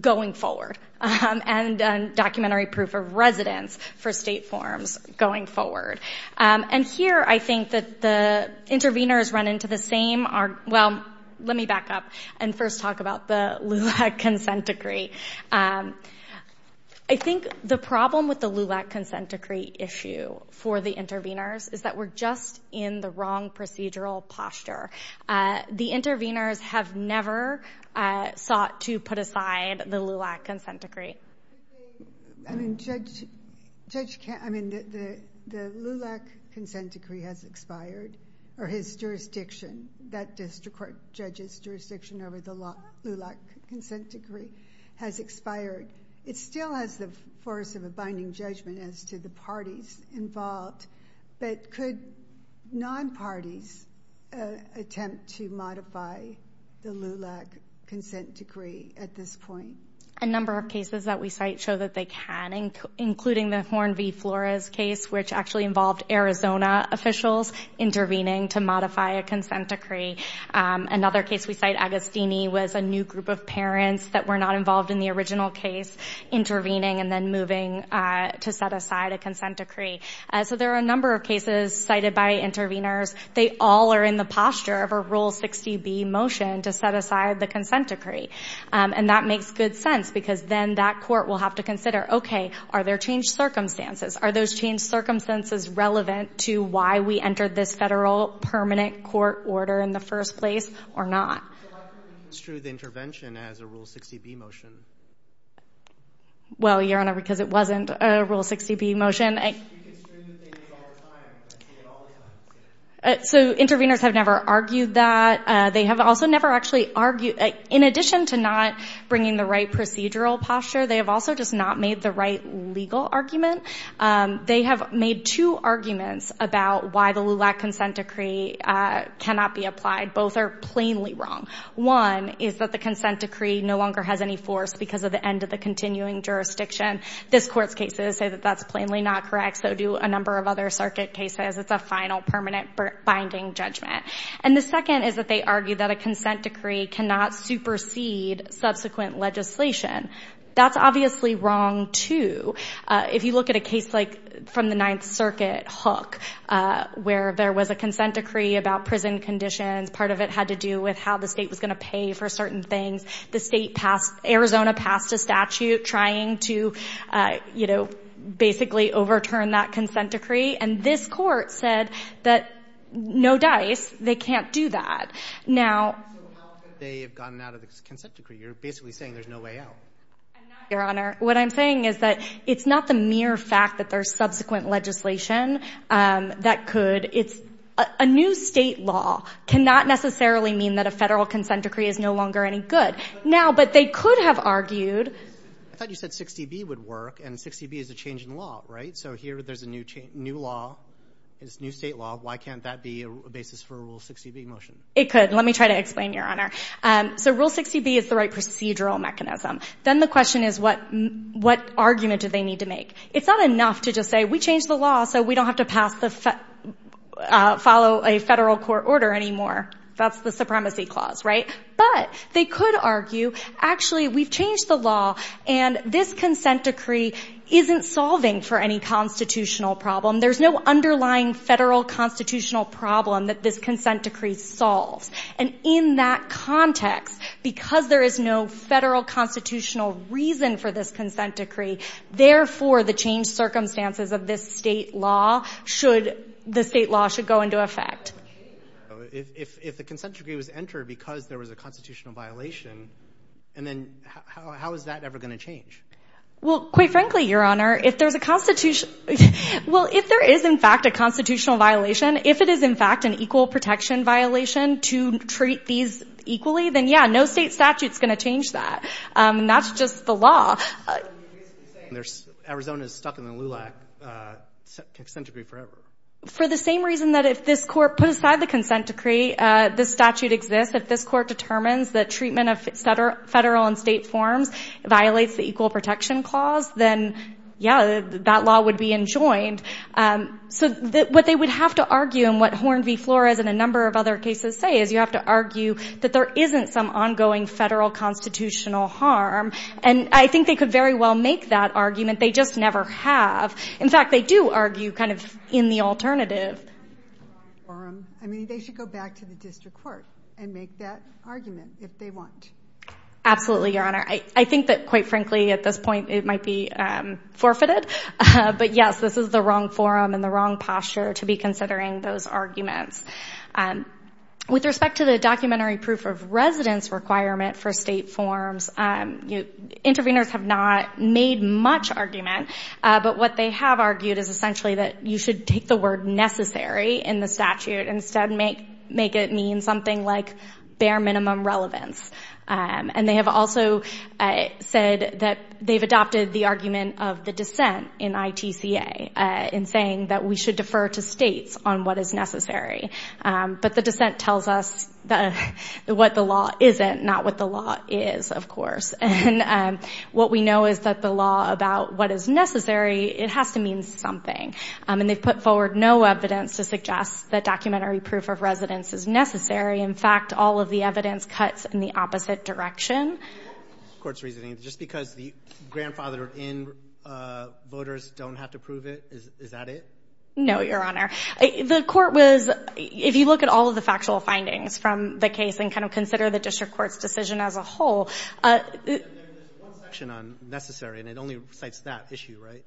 going forward and documentary proof of residence for state forms going forward. And here, I think that the interveners run into the same, well, let me back up and first talk about the LULAC Consent Decree. I think the problem with the LULAC Consent Decree issue for the interveners is that we're just in the wrong procedural posture. The interveners have never sought to put aside the LULAC Consent Decree. I mean, the LULAC Consent Decree has expired, or his jurisdiction, that district court judge's jurisdiction over the LULAC Consent Decree has expired. It still has the force of a binding judgment as to the parties involved, but could non-parties attempt to modify the LULAC Consent Decree at this point? A number of cases that we cite show that they can, including the Horn v. Flores case, which actually involved Arizona officials intervening to modify a consent decree. Another case we cite, Agostini, was a new group of parents that were not involved in the original case intervening and then moving to set aside a consent decree. So there are a number of cases cited by interveners. They all are in the posture of a Rule 60B motion to set aside the consent decree, and that makes good sense because then that court will have to consider, okay, are there changed circumstances? Are those changed circumstances relevant to why we entered this federal permanent court order in the first place or not? So why couldn't you construe the intervention as a Rule 60B motion? Well, Your Honor, because it wasn't a Rule 60B motion. You could construe that they did it all the time. So interveners have never argued that. They have also never actually argued. In addition to not bringing the right procedural posture, they have also just not made the right legal argument. They have made two arguments about why the LULAC consent decree cannot be applied. Both are plainly wrong. One is that the consent decree no longer has any force because of the end of the continuing jurisdiction. This Court's cases say that that's plainly not correct. So do a number of other circuit cases. It's a final permanent binding judgment. And the second is that they argue that a consent decree cannot supersede subsequent legislation. That's obviously wrong, too. If you look at a case like from the Ninth Circuit hook where there was a consent decree about prison conditions, part of it had to do with how the state was going to pay for certain things. The state passed—Arizona passed a statute trying to, you know, basically overturn that consent decree. And this Court said that no dice. They can't do that. Now— So how could they have gotten out of the consent decree? You're basically saying there's no way out. I'm not, Your Honor. What I'm saying is that it's not the mere fact that there's subsequent legislation that could. It's a new State law cannot necessarily mean that a Federal consent decree is no longer any good. Now, but they could have argued— I thought you said 60B would work. And 60B is a change in law, right? So here there's a new law. It's a new State law. Why can't that be a basis for a Rule 60B motion? It could. Let me try to explain, Your Honor. So Rule 60B is the right procedural mechanism. Then the question is what argument do they need to make? It's not enough to just say we changed the law so we don't have to follow a Federal court order anymore. That's the supremacy clause, right? But they could argue, actually, we've changed the law, and this consent decree isn't solving for any constitutional problem. There's no underlying Federal constitutional problem that this consent decree solves. And in that context, because there is no Federal constitutional reason for this consent decree, therefore the changed circumstances of this State law should—the State law should go into effect. If the consent decree was entered because there was a constitutional violation, and then how is that ever going to change? Well, quite frankly, Your Honor, if there's a constitutional— well, if there is, in fact, a constitutional violation, if it is, in fact, an equal protection violation to treat these equally, then, yeah, no State statute is going to change that. And that's just the law. You're basically saying Arizona is stuck in the LULAC consent decree forever. For the same reason that if this Court put aside the consent decree, this statute exists. If this Court determines that treatment of Federal and State forms violates the equal protection clause, then, yeah, that law would be enjoined. So what they would have to argue, and what Horn v. Flores and a number of other cases say, is you have to argue that there isn't some ongoing Federal constitutional harm. And I think they could very well make that argument. They just never have. In fact, they do argue kind of in the alternative. I mean, they should go back to the district court and make that argument if they want. Absolutely, Your Honor. I think that, quite frankly, at this point it might be forfeited. But, yes, this is the wrong forum and the wrong posture to be considering those arguments. With respect to the documentary proof of residence requirement for State forms, interveners have not made much argument, but what they have argued is essentially that you should take the word necessary in the statute and instead make it mean something like bare minimum relevance. And they have also said that they've adopted the argument of the dissent in ITCA in saying that we should defer to States on what is necessary. But the dissent tells us what the law isn't, not what the law is, of course. And what we know is that the law about what is necessary, it has to mean something. And they've put forward no evidence to suggest that documentary proof of residence is necessary. In fact, all of the evidence cuts in the opposite direction. The Court's reasoning is just because the grandfathered in voters don't have to prove it, is that it? No, Your Honor. The Court was, if you look at all of the factual findings from the case and kind of consider the District Court's decision as a whole. There's one section on necessary, and it only cites that issue, right?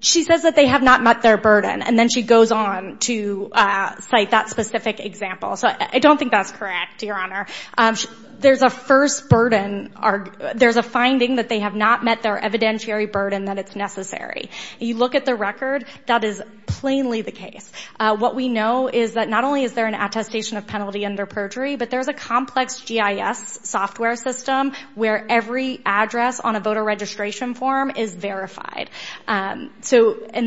She says that they have not met their burden, and then she goes on to cite that specific example. So I don't think that's correct, Your Honor. There's a first burden, there's a finding that they have not met their evidentiary burden that it's necessary. You look at the record, that is plainly the case. What we know is that not only is there an attestation of penalty under perjury, but there's a complex GIS software system where every address on a voter registration form is verified. And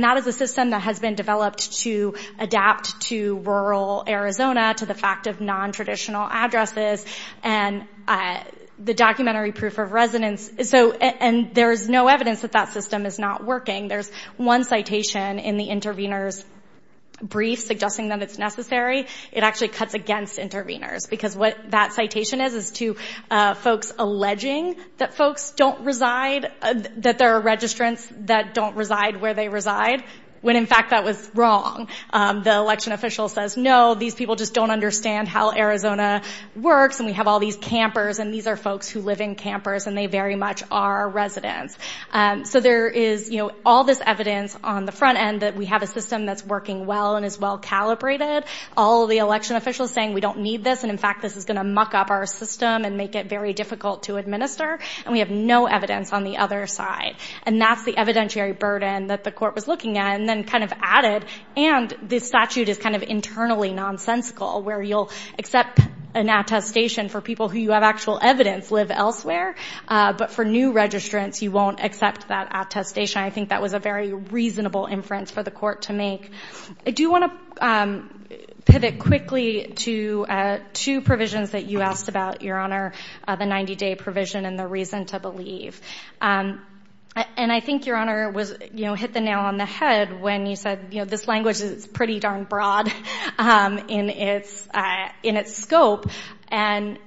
that is a system that has been developed to adapt to rural Arizona, to the fact of nontraditional addresses, and the documentary proof of residence. And there's no evidence that that system is not working. There's one citation in the intervener's brief suggesting that it's necessary. It actually cuts against interveners, because what that citation is, is to folks alleging that folks don't reside, that there are registrants that don't reside where they reside, when in fact that was wrong. The election official says, no, these people just don't understand how Arizona works, and we have all these campers, and these are folks who live in campers, and they very much are residents. So there is all this evidence on the front end that we have a system that's working well and is well calibrated. All of the election officials saying we don't need this, and in fact this is going to muck up our system and make it very difficult to administer. And we have no evidence on the other side. And that's the evidentiary burden that the court was looking at, and then kind of added, and this statute is kind of internally nonsensical, where you'll accept an attestation for people who you have actual evidence live elsewhere, but for new registrants you won't accept that attestation. I think that was a very reasonable inference for the court to make. I do want to pivot quickly to two provisions that you asked about, Your Honor, the 90-day provision and the reason to believe. And I think, Your Honor, it hit the nail on the head when you said, you know, this language is pretty darn broad in its scope, and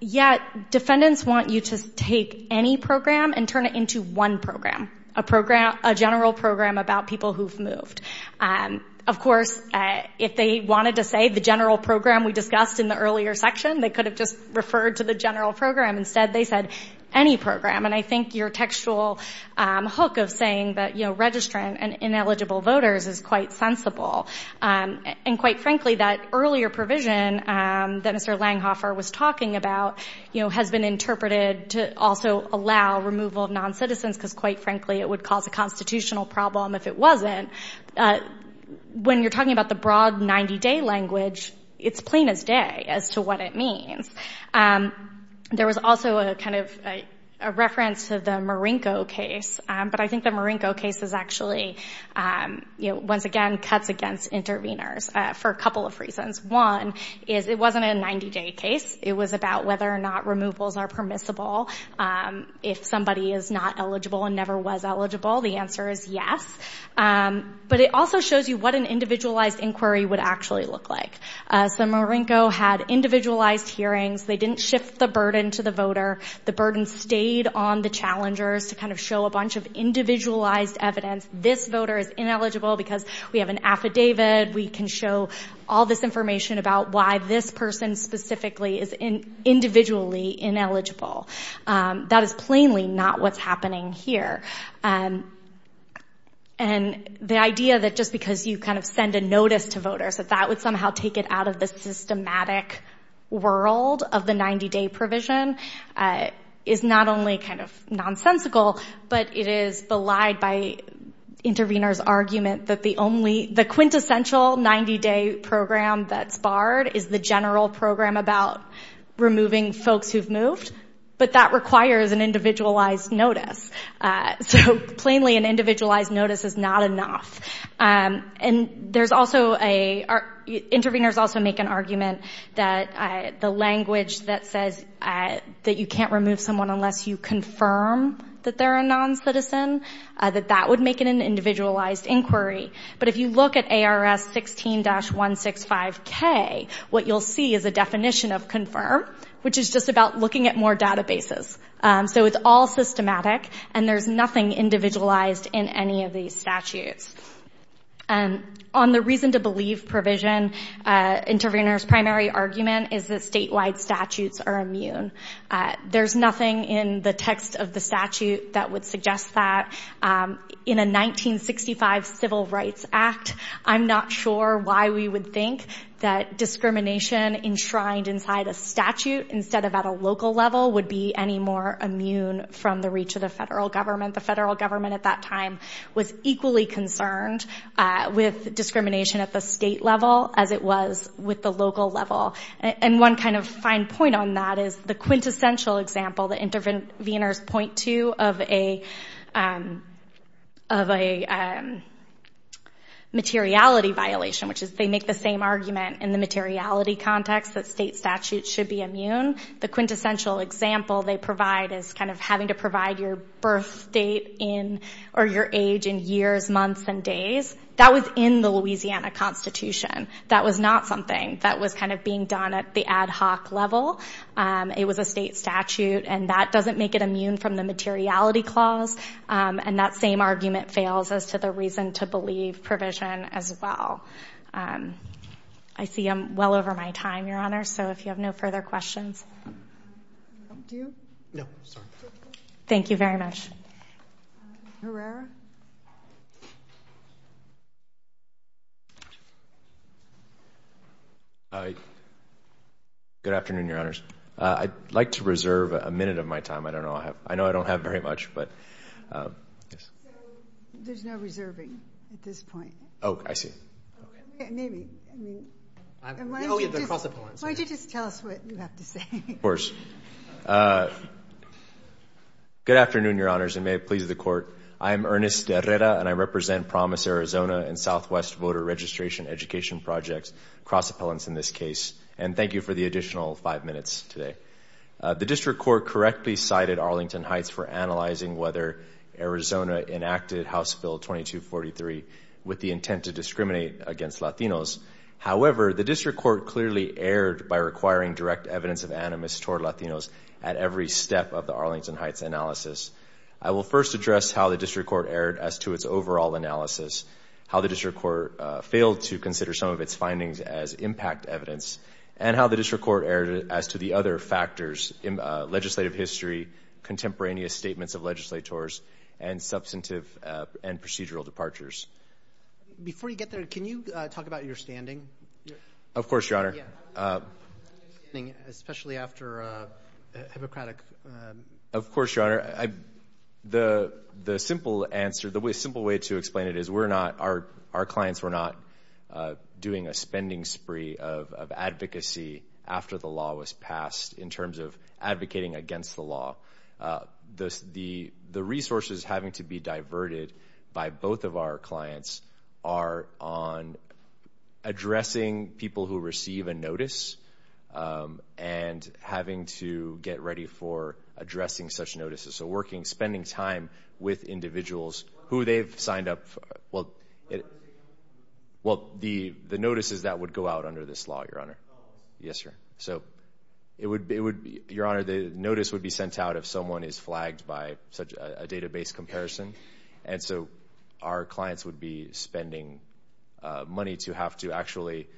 yet defendants want you to take any program and turn it into one program, a general program about people who've moved. Of course, if they wanted to say the general program we discussed in the earlier section, they could have just referred to the general program. Instead, they said any program. And I think your textual hook of saying that, you know, registrant and ineligible voters is quite sensible. And quite frankly, that earlier provision that Mr. Langhofer was talking about, you know, has been interpreted to also allow removal of noncitizens because, quite frankly, it would cause a constitutional problem if it wasn't. When you're talking about the broad 90-day language, it's plain as day as to what it means. There was also a kind of reference to the Marinko case, but I think the Marinko case is actually, you know, once again, cuts against intervenors for a couple of reasons. One is it wasn't a 90-day case. It was about whether or not removals are permissible. If somebody is not eligible and never was eligible, the answer is yes. But it also shows you what an individualized inquiry would actually look like. So Marinko had individualized hearings. They didn't shift the burden to the voter. The burden stayed on the challengers to kind of show a bunch of individualized evidence. This voter is ineligible because we have an affidavit. We can show all this information about why this person specifically is individually ineligible. That is plainly not what's happening here. And the idea that just because you kind of send a notice to voters, that that would somehow take it out of the systematic world of the 90-day provision is not only kind of nonsensical, but it is belied by intervenors' argument that the quintessential 90-day program that's barred is the general program about removing folks who've moved. But that requires an individualized notice. So plainly an individualized notice is not enough. And intervenors also make an argument that the language that says that you can't remove someone unless you confirm that they're a noncitizen, that that would make it an individualized inquiry. But if you look at ARS 16-165K, what you'll see is a definition of confirm, which is just about looking at more databases. So it's all systematic, and there's nothing individualized in any of these statutes. On the reason to believe provision, intervenors' primary argument is that statewide statutes are immune. There's nothing in the text of the statute that would suggest that. In a 1965 Civil Rights Act, I'm not sure why we would think that discrimination enshrined inside a statute instead of at a local level would be any more immune from the reach of the federal government. The federal government at that time was equally concerned with discrimination at the state level as it was with the local level. And one kind of fine point on that is the quintessential example that intervenors point to of a materiality violation, which is they make the same argument in the materiality context that state statutes should be immune. The quintessential example they provide is kind of having to provide your birth date in, or your age in years, months, and days. That was in the Louisiana Constitution. That was not something that was kind of being done at the ad hoc level. It was a state statute, and that doesn't make it immune from the materiality clause. And that same argument fails as to the reason to believe provision as well. I see I'm well over my time, Your Honor, so if you have no further questions. Do you? No, sorry. Thank you very much. Herrera? Good afternoon, Your Honors. I'd like to reserve a minute of my time. I know I don't have very much, but yes. There's no reserving at this point. Oh, I see. Maybe. Why don't you just tell us what you have to say? Of course. Good afternoon, Your Honors, and may it please the Court. I am Ernest Herrera, and I represent Promise Arizona and Southwest Voter Registration Education Projects, cross-appellants in this case. And thank you for the additional five minutes today. The District Court correctly cited Arlington Heights for analyzing whether Arizona enacted House Bill 2243 with the intent to discriminate against Latinos. However, the District Court clearly erred by requiring direct evidence of animus toward Latinos at every step of the Arlington Heights analysis. I will first address how the District Court erred as to its overall analysis, how the District Court failed to consider some of its findings as impact evidence, and how the District Court erred as to the other factors, legislative history, contemporaneous statements of legislators, and substantive and procedural departures. Before you get there, can you talk about your standing? Of course, Your Honor. Especially after a Hippocratic. Of course, Your Honor. The simple way to explain it is our clients were not doing a spending spree of advocacy after the law was passed in terms of advocating against the law. The resources having to be diverted by both of our clients are on addressing people who receive a notice and having to get ready for addressing such notices. So working, spending time with individuals who they've signed up for. Well, the notices that would go out under this law, Your Honor. Yes, sir. So, Your Honor, the notice would be sent out if someone is flagged by a database comparison. And so our clients would be spending money to have to actually,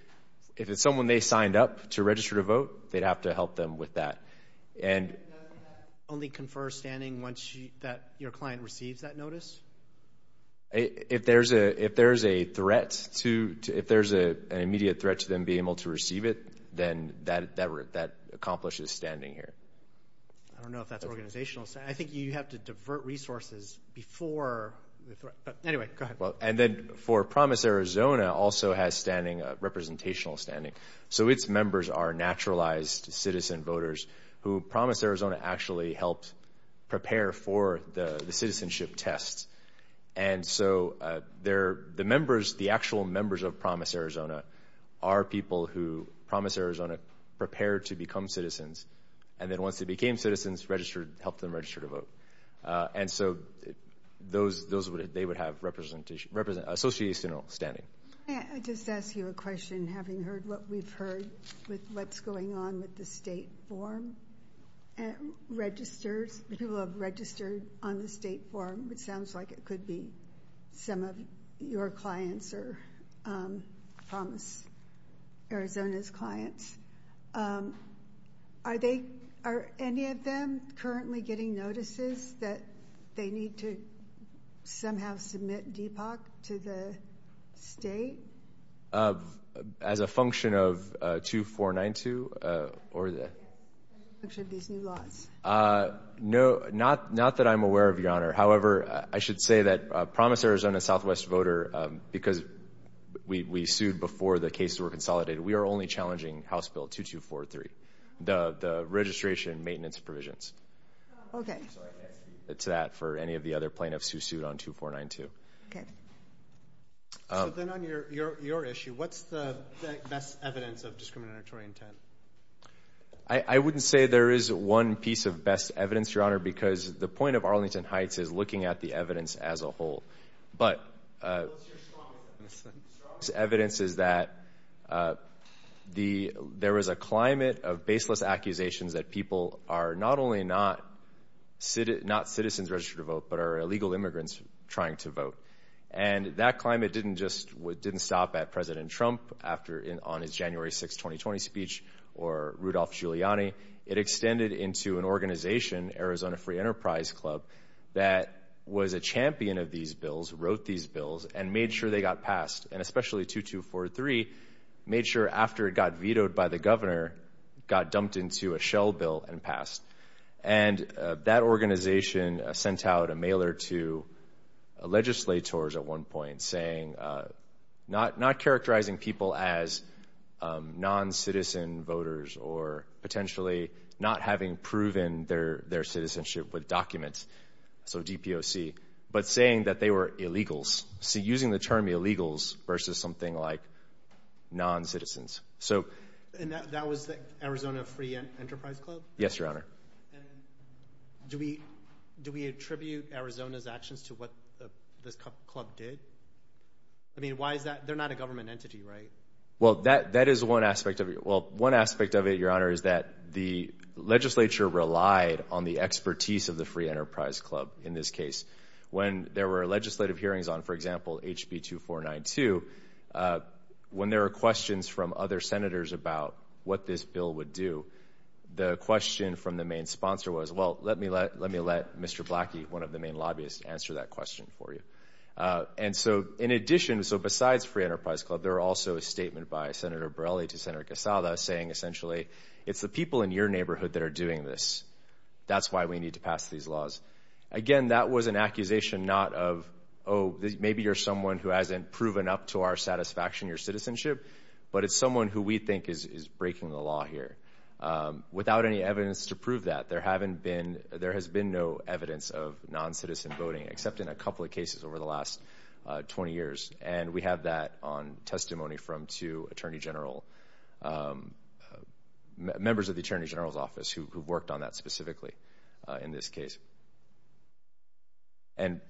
if it's someone they signed up to register to vote, they'd have to help them with that. Doesn't that only confer standing once your client receives that notice? If there's a threat to, if there's an immediate threat to them being able to receive it, then that accomplishes standing here. I don't know if that's organizational. I think you have to divert resources before. Anyway, go ahead. And then for Promise Arizona also has standing, representational standing. So its members are naturalized citizen voters who Promise Arizona actually helped prepare for the citizenship test. And so the members, the actual members of Promise Arizona, are people who Promise Arizona prepared to become citizens. And then once they became citizens, registered, helped them register to vote. And so those, they would have representational, associational standing. May I just ask you a question, having heard what we've heard with what's going on with the state form? People have registered on the state form, which sounds like it could be some of your clients or Promise Arizona's clients. Are any of them currently getting notices that they need to somehow submit DPOC to the state? As a function of 2492? As a function of these new laws? No, not that I'm aware of, Your Honor. However, I should say that Promise Arizona Southwest Voter, because we sued before the cases were consolidated, we are only challenging House Bill 2243, the registration and maintenance provisions. Okay. So I can't speak to that for any of the other plaintiffs who sued on 2492. Okay. So then on your issue, what's the best evidence of discriminatory intent? I wouldn't say there is one piece of best evidence, Your Honor, because the point of Arlington Heights is looking at the evidence as a whole. But evidence is that there is a climate of baseless accusations that people are not only not citizens registered to vote, but are illegal immigrants trying to vote. And that climate didn't stop at President Trump on his January 6, 2020 speech or Rudolph Giuliani. It extended into an organization, Arizona Free Enterprise Club, that was a champion of these bills, wrote these bills, and made sure they got passed. And especially 2243 made sure after it got vetoed by the governor, got dumped into a shell bill and passed. And that organization sent out a mailer to legislators at one point saying, not characterizing people as non-citizen voters or potentially not having proven their citizenship with documents, so DPOC, but saying that they were illegals, using the term illegals versus something like non-citizens. And that was the Arizona Free Enterprise Club? Yes, Your Honor. And do we attribute Arizona's actions to what this club did? I mean, why is that? They're not a government entity, right? Well, that is one aspect of it. Well, one aspect of it, Your Honor, is that the legislature relied on the expertise of the Free Enterprise Club in this case. When there were legislative hearings on, for example, HB 2492, when there were questions from other senators about what this bill would do, the question from the main sponsor was, well, let me let Mr. Blackie, one of the main lobbyists, answer that question for you. And so in addition, so besides Free Enterprise Club, there were also a statement by Senator Borrelli to Senator Quesada saying essentially, it's the people in your neighborhood that are doing this. That's why we need to pass these laws. Again, that was an accusation not of, oh, maybe you're someone who hasn't proven up to our satisfaction, your citizenship, but it's someone who we think is breaking the law here. Without any evidence to prove that, there has been no evidence of non-citizen voting, except in a couple of cases over the last 20 years. And we have that on testimony from two members of the Attorney General's Office who worked on that specifically in this case. And,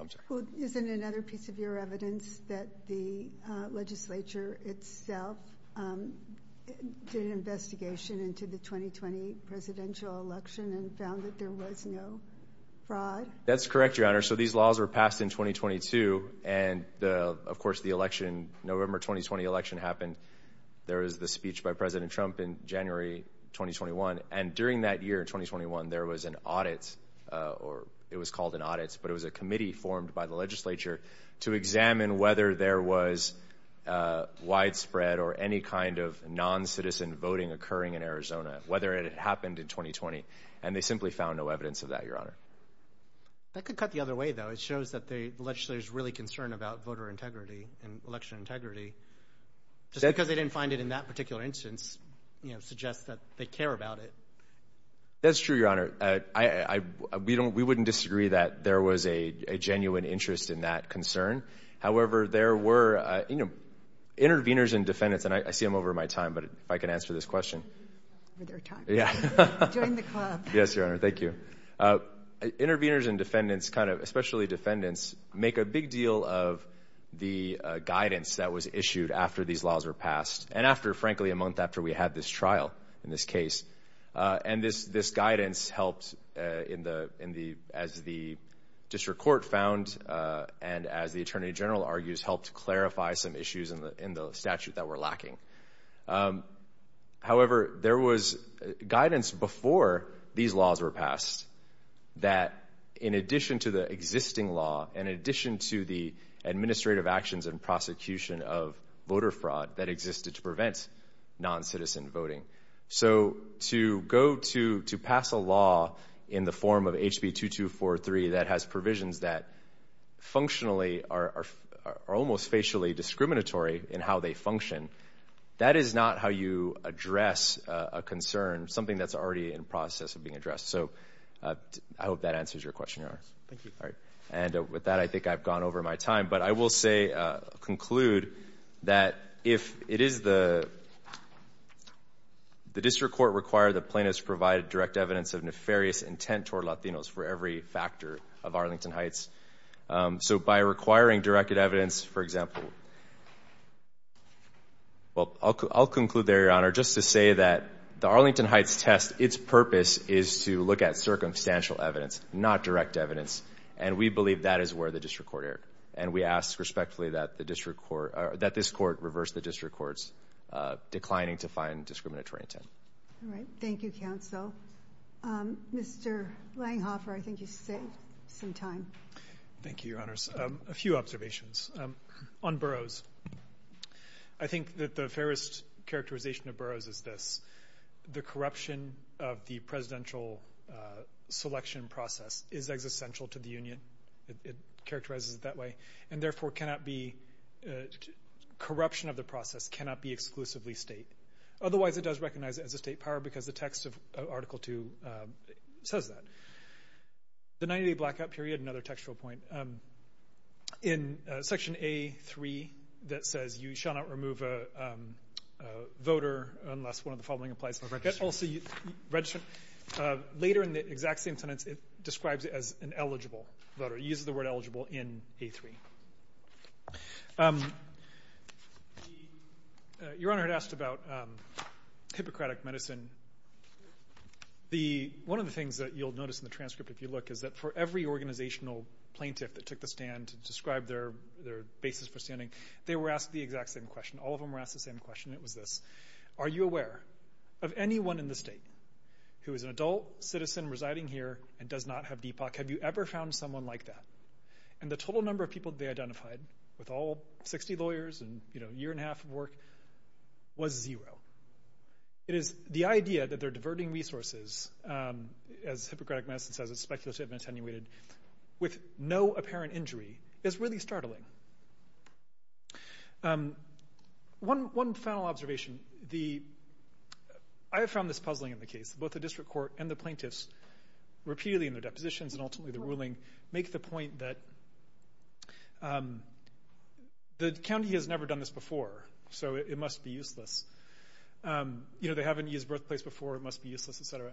I'm sorry. Isn't another piece of your evidence that the legislature itself did an investigation into the 2020 presidential election and found that there was no fraud? That's correct, Your Honor. So these laws were passed in 2022. And of course, the election, November 2020 election happened. There was the speech by President Trump in January 2021. And during that year, 2021, there was an audit, or it was called an audit, but it was a committee formed by the legislature to examine whether there was widespread or any kind of non-citizen voting occurring in Arizona, whether it happened in 2020. And they simply found no evidence of that, Your Honor. That could cut the other way, though. It shows that the legislature is really concerned about voter integrity and election integrity. Just because they didn't find it in that particular instance suggests that they care about it. That's true, Your Honor. We wouldn't disagree that there was a genuine interest in that concern. However, there were interveners and defendants, and I see I'm over my time, but if I can answer this question. Join the club. Yes, Your Honor. Thank you. Interveners and defendants, especially defendants, make a big deal of the guidance that was issued after these laws were passed. And after, frankly, a month after we had this trial in this case. And this guidance helped, as the district court found and as the attorney general argues, helped clarify some issues in the statute that were lacking. However, there was guidance before these laws were passed that in addition to the existing law, in addition to the administrative actions and prosecution of voter fraud that existed to prevent noncitizen voting. So to go to pass a law in the form of HB 2243 that has provisions that functionally are almost facially discriminatory in how they function, that is not how you address a concern, something that's already in process of being addressed. So I hope that answers your question, Your Honor. Thank you. All right. And with that, I think I've gone over my time. But I will conclude that if it is the district court require that plaintiffs provide direct evidence of nefarious intent toward Latinos for every factor of Arlington Heights. So by requiring directed evidence, for example, well, I'll conclude there, Your Honor, just to say that the Arlington Heights test, its purpose is to look at circumstantial evidence, not direct evidence. And we believe that is where the district court erred. And we ask respectfully that this court reverse the district court's declining to find discriminatory intent. All right. Thank you, counsel. Mr. Langhoffer, I think you said some time. Thank you, Your Honors. A few observations. On Burroughs. I think that the fairest characterization of Burroughs is this, the corruption of the presidential selection process is existential to the union. It characterizes it that way. And, therefore, corruption of the process cannot be exclusively state. Otherwise, it does recognize it as a state power because the text of Article II says that. The 90-day blackout period, another textual point. In Section A3 that says you shall not remove a voter unless one of the following applies. Registrant. Later in the exact same sentence, it describes it as an eligible voter. It uses the word eligible in A3. Your Honor had asked about Hippocratic medicine. One of the things that you'll notice in the transcript if you look is that for every organizational plaintiff that took the stand to describe their basis for standing, they were asked the exact same question. All of them were asked the same question. It was this. Are you aware of anyone in the state who is an adult citizen residing here and does not have Deepak? Have you ever found someone like that? And the total number of people they identified with all 60 lawyers and, you know, a year and a half of work was zero. It is the idea that they're diverting resources, as Hippocratic medicine says it's speculative and attenuated, with no apparent injury is really startling. One final observation. I have found this puzzling in the case. Both the district court and the plaintiffs repeatedly in their depositions and ultimately the ruling make the point that the county has never done this before, so it must be useless. You know, they haven't used birthplace before. It must be useless, et cetera.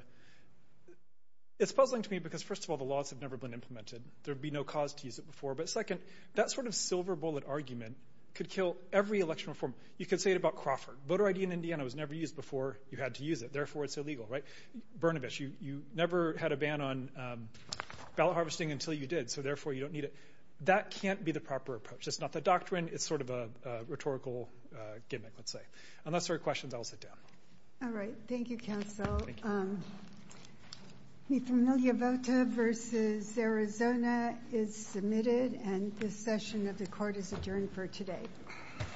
It's puzzling to me because, first of all, the laws have never been implemented. There would be no cause to use it before. But second, that sort of silver bullet argument could kill every election reform. You could say it about Crawford. Voter ID in Indiana was never used before you had to use it. Therefore, it's illegal, right? Burnabish, you never had a ban on ballot harvesting until you did, so therefore you don't need it. That can't be the proper approach. It's not the doctrine. It's sort of a rhetorical gimmick, let's say. Unless there are questions, I'll sit down. All right. Thank you, counsel. The familiar vote versus Arizona is submitted, and this session of the court is adjourned for today. All rise.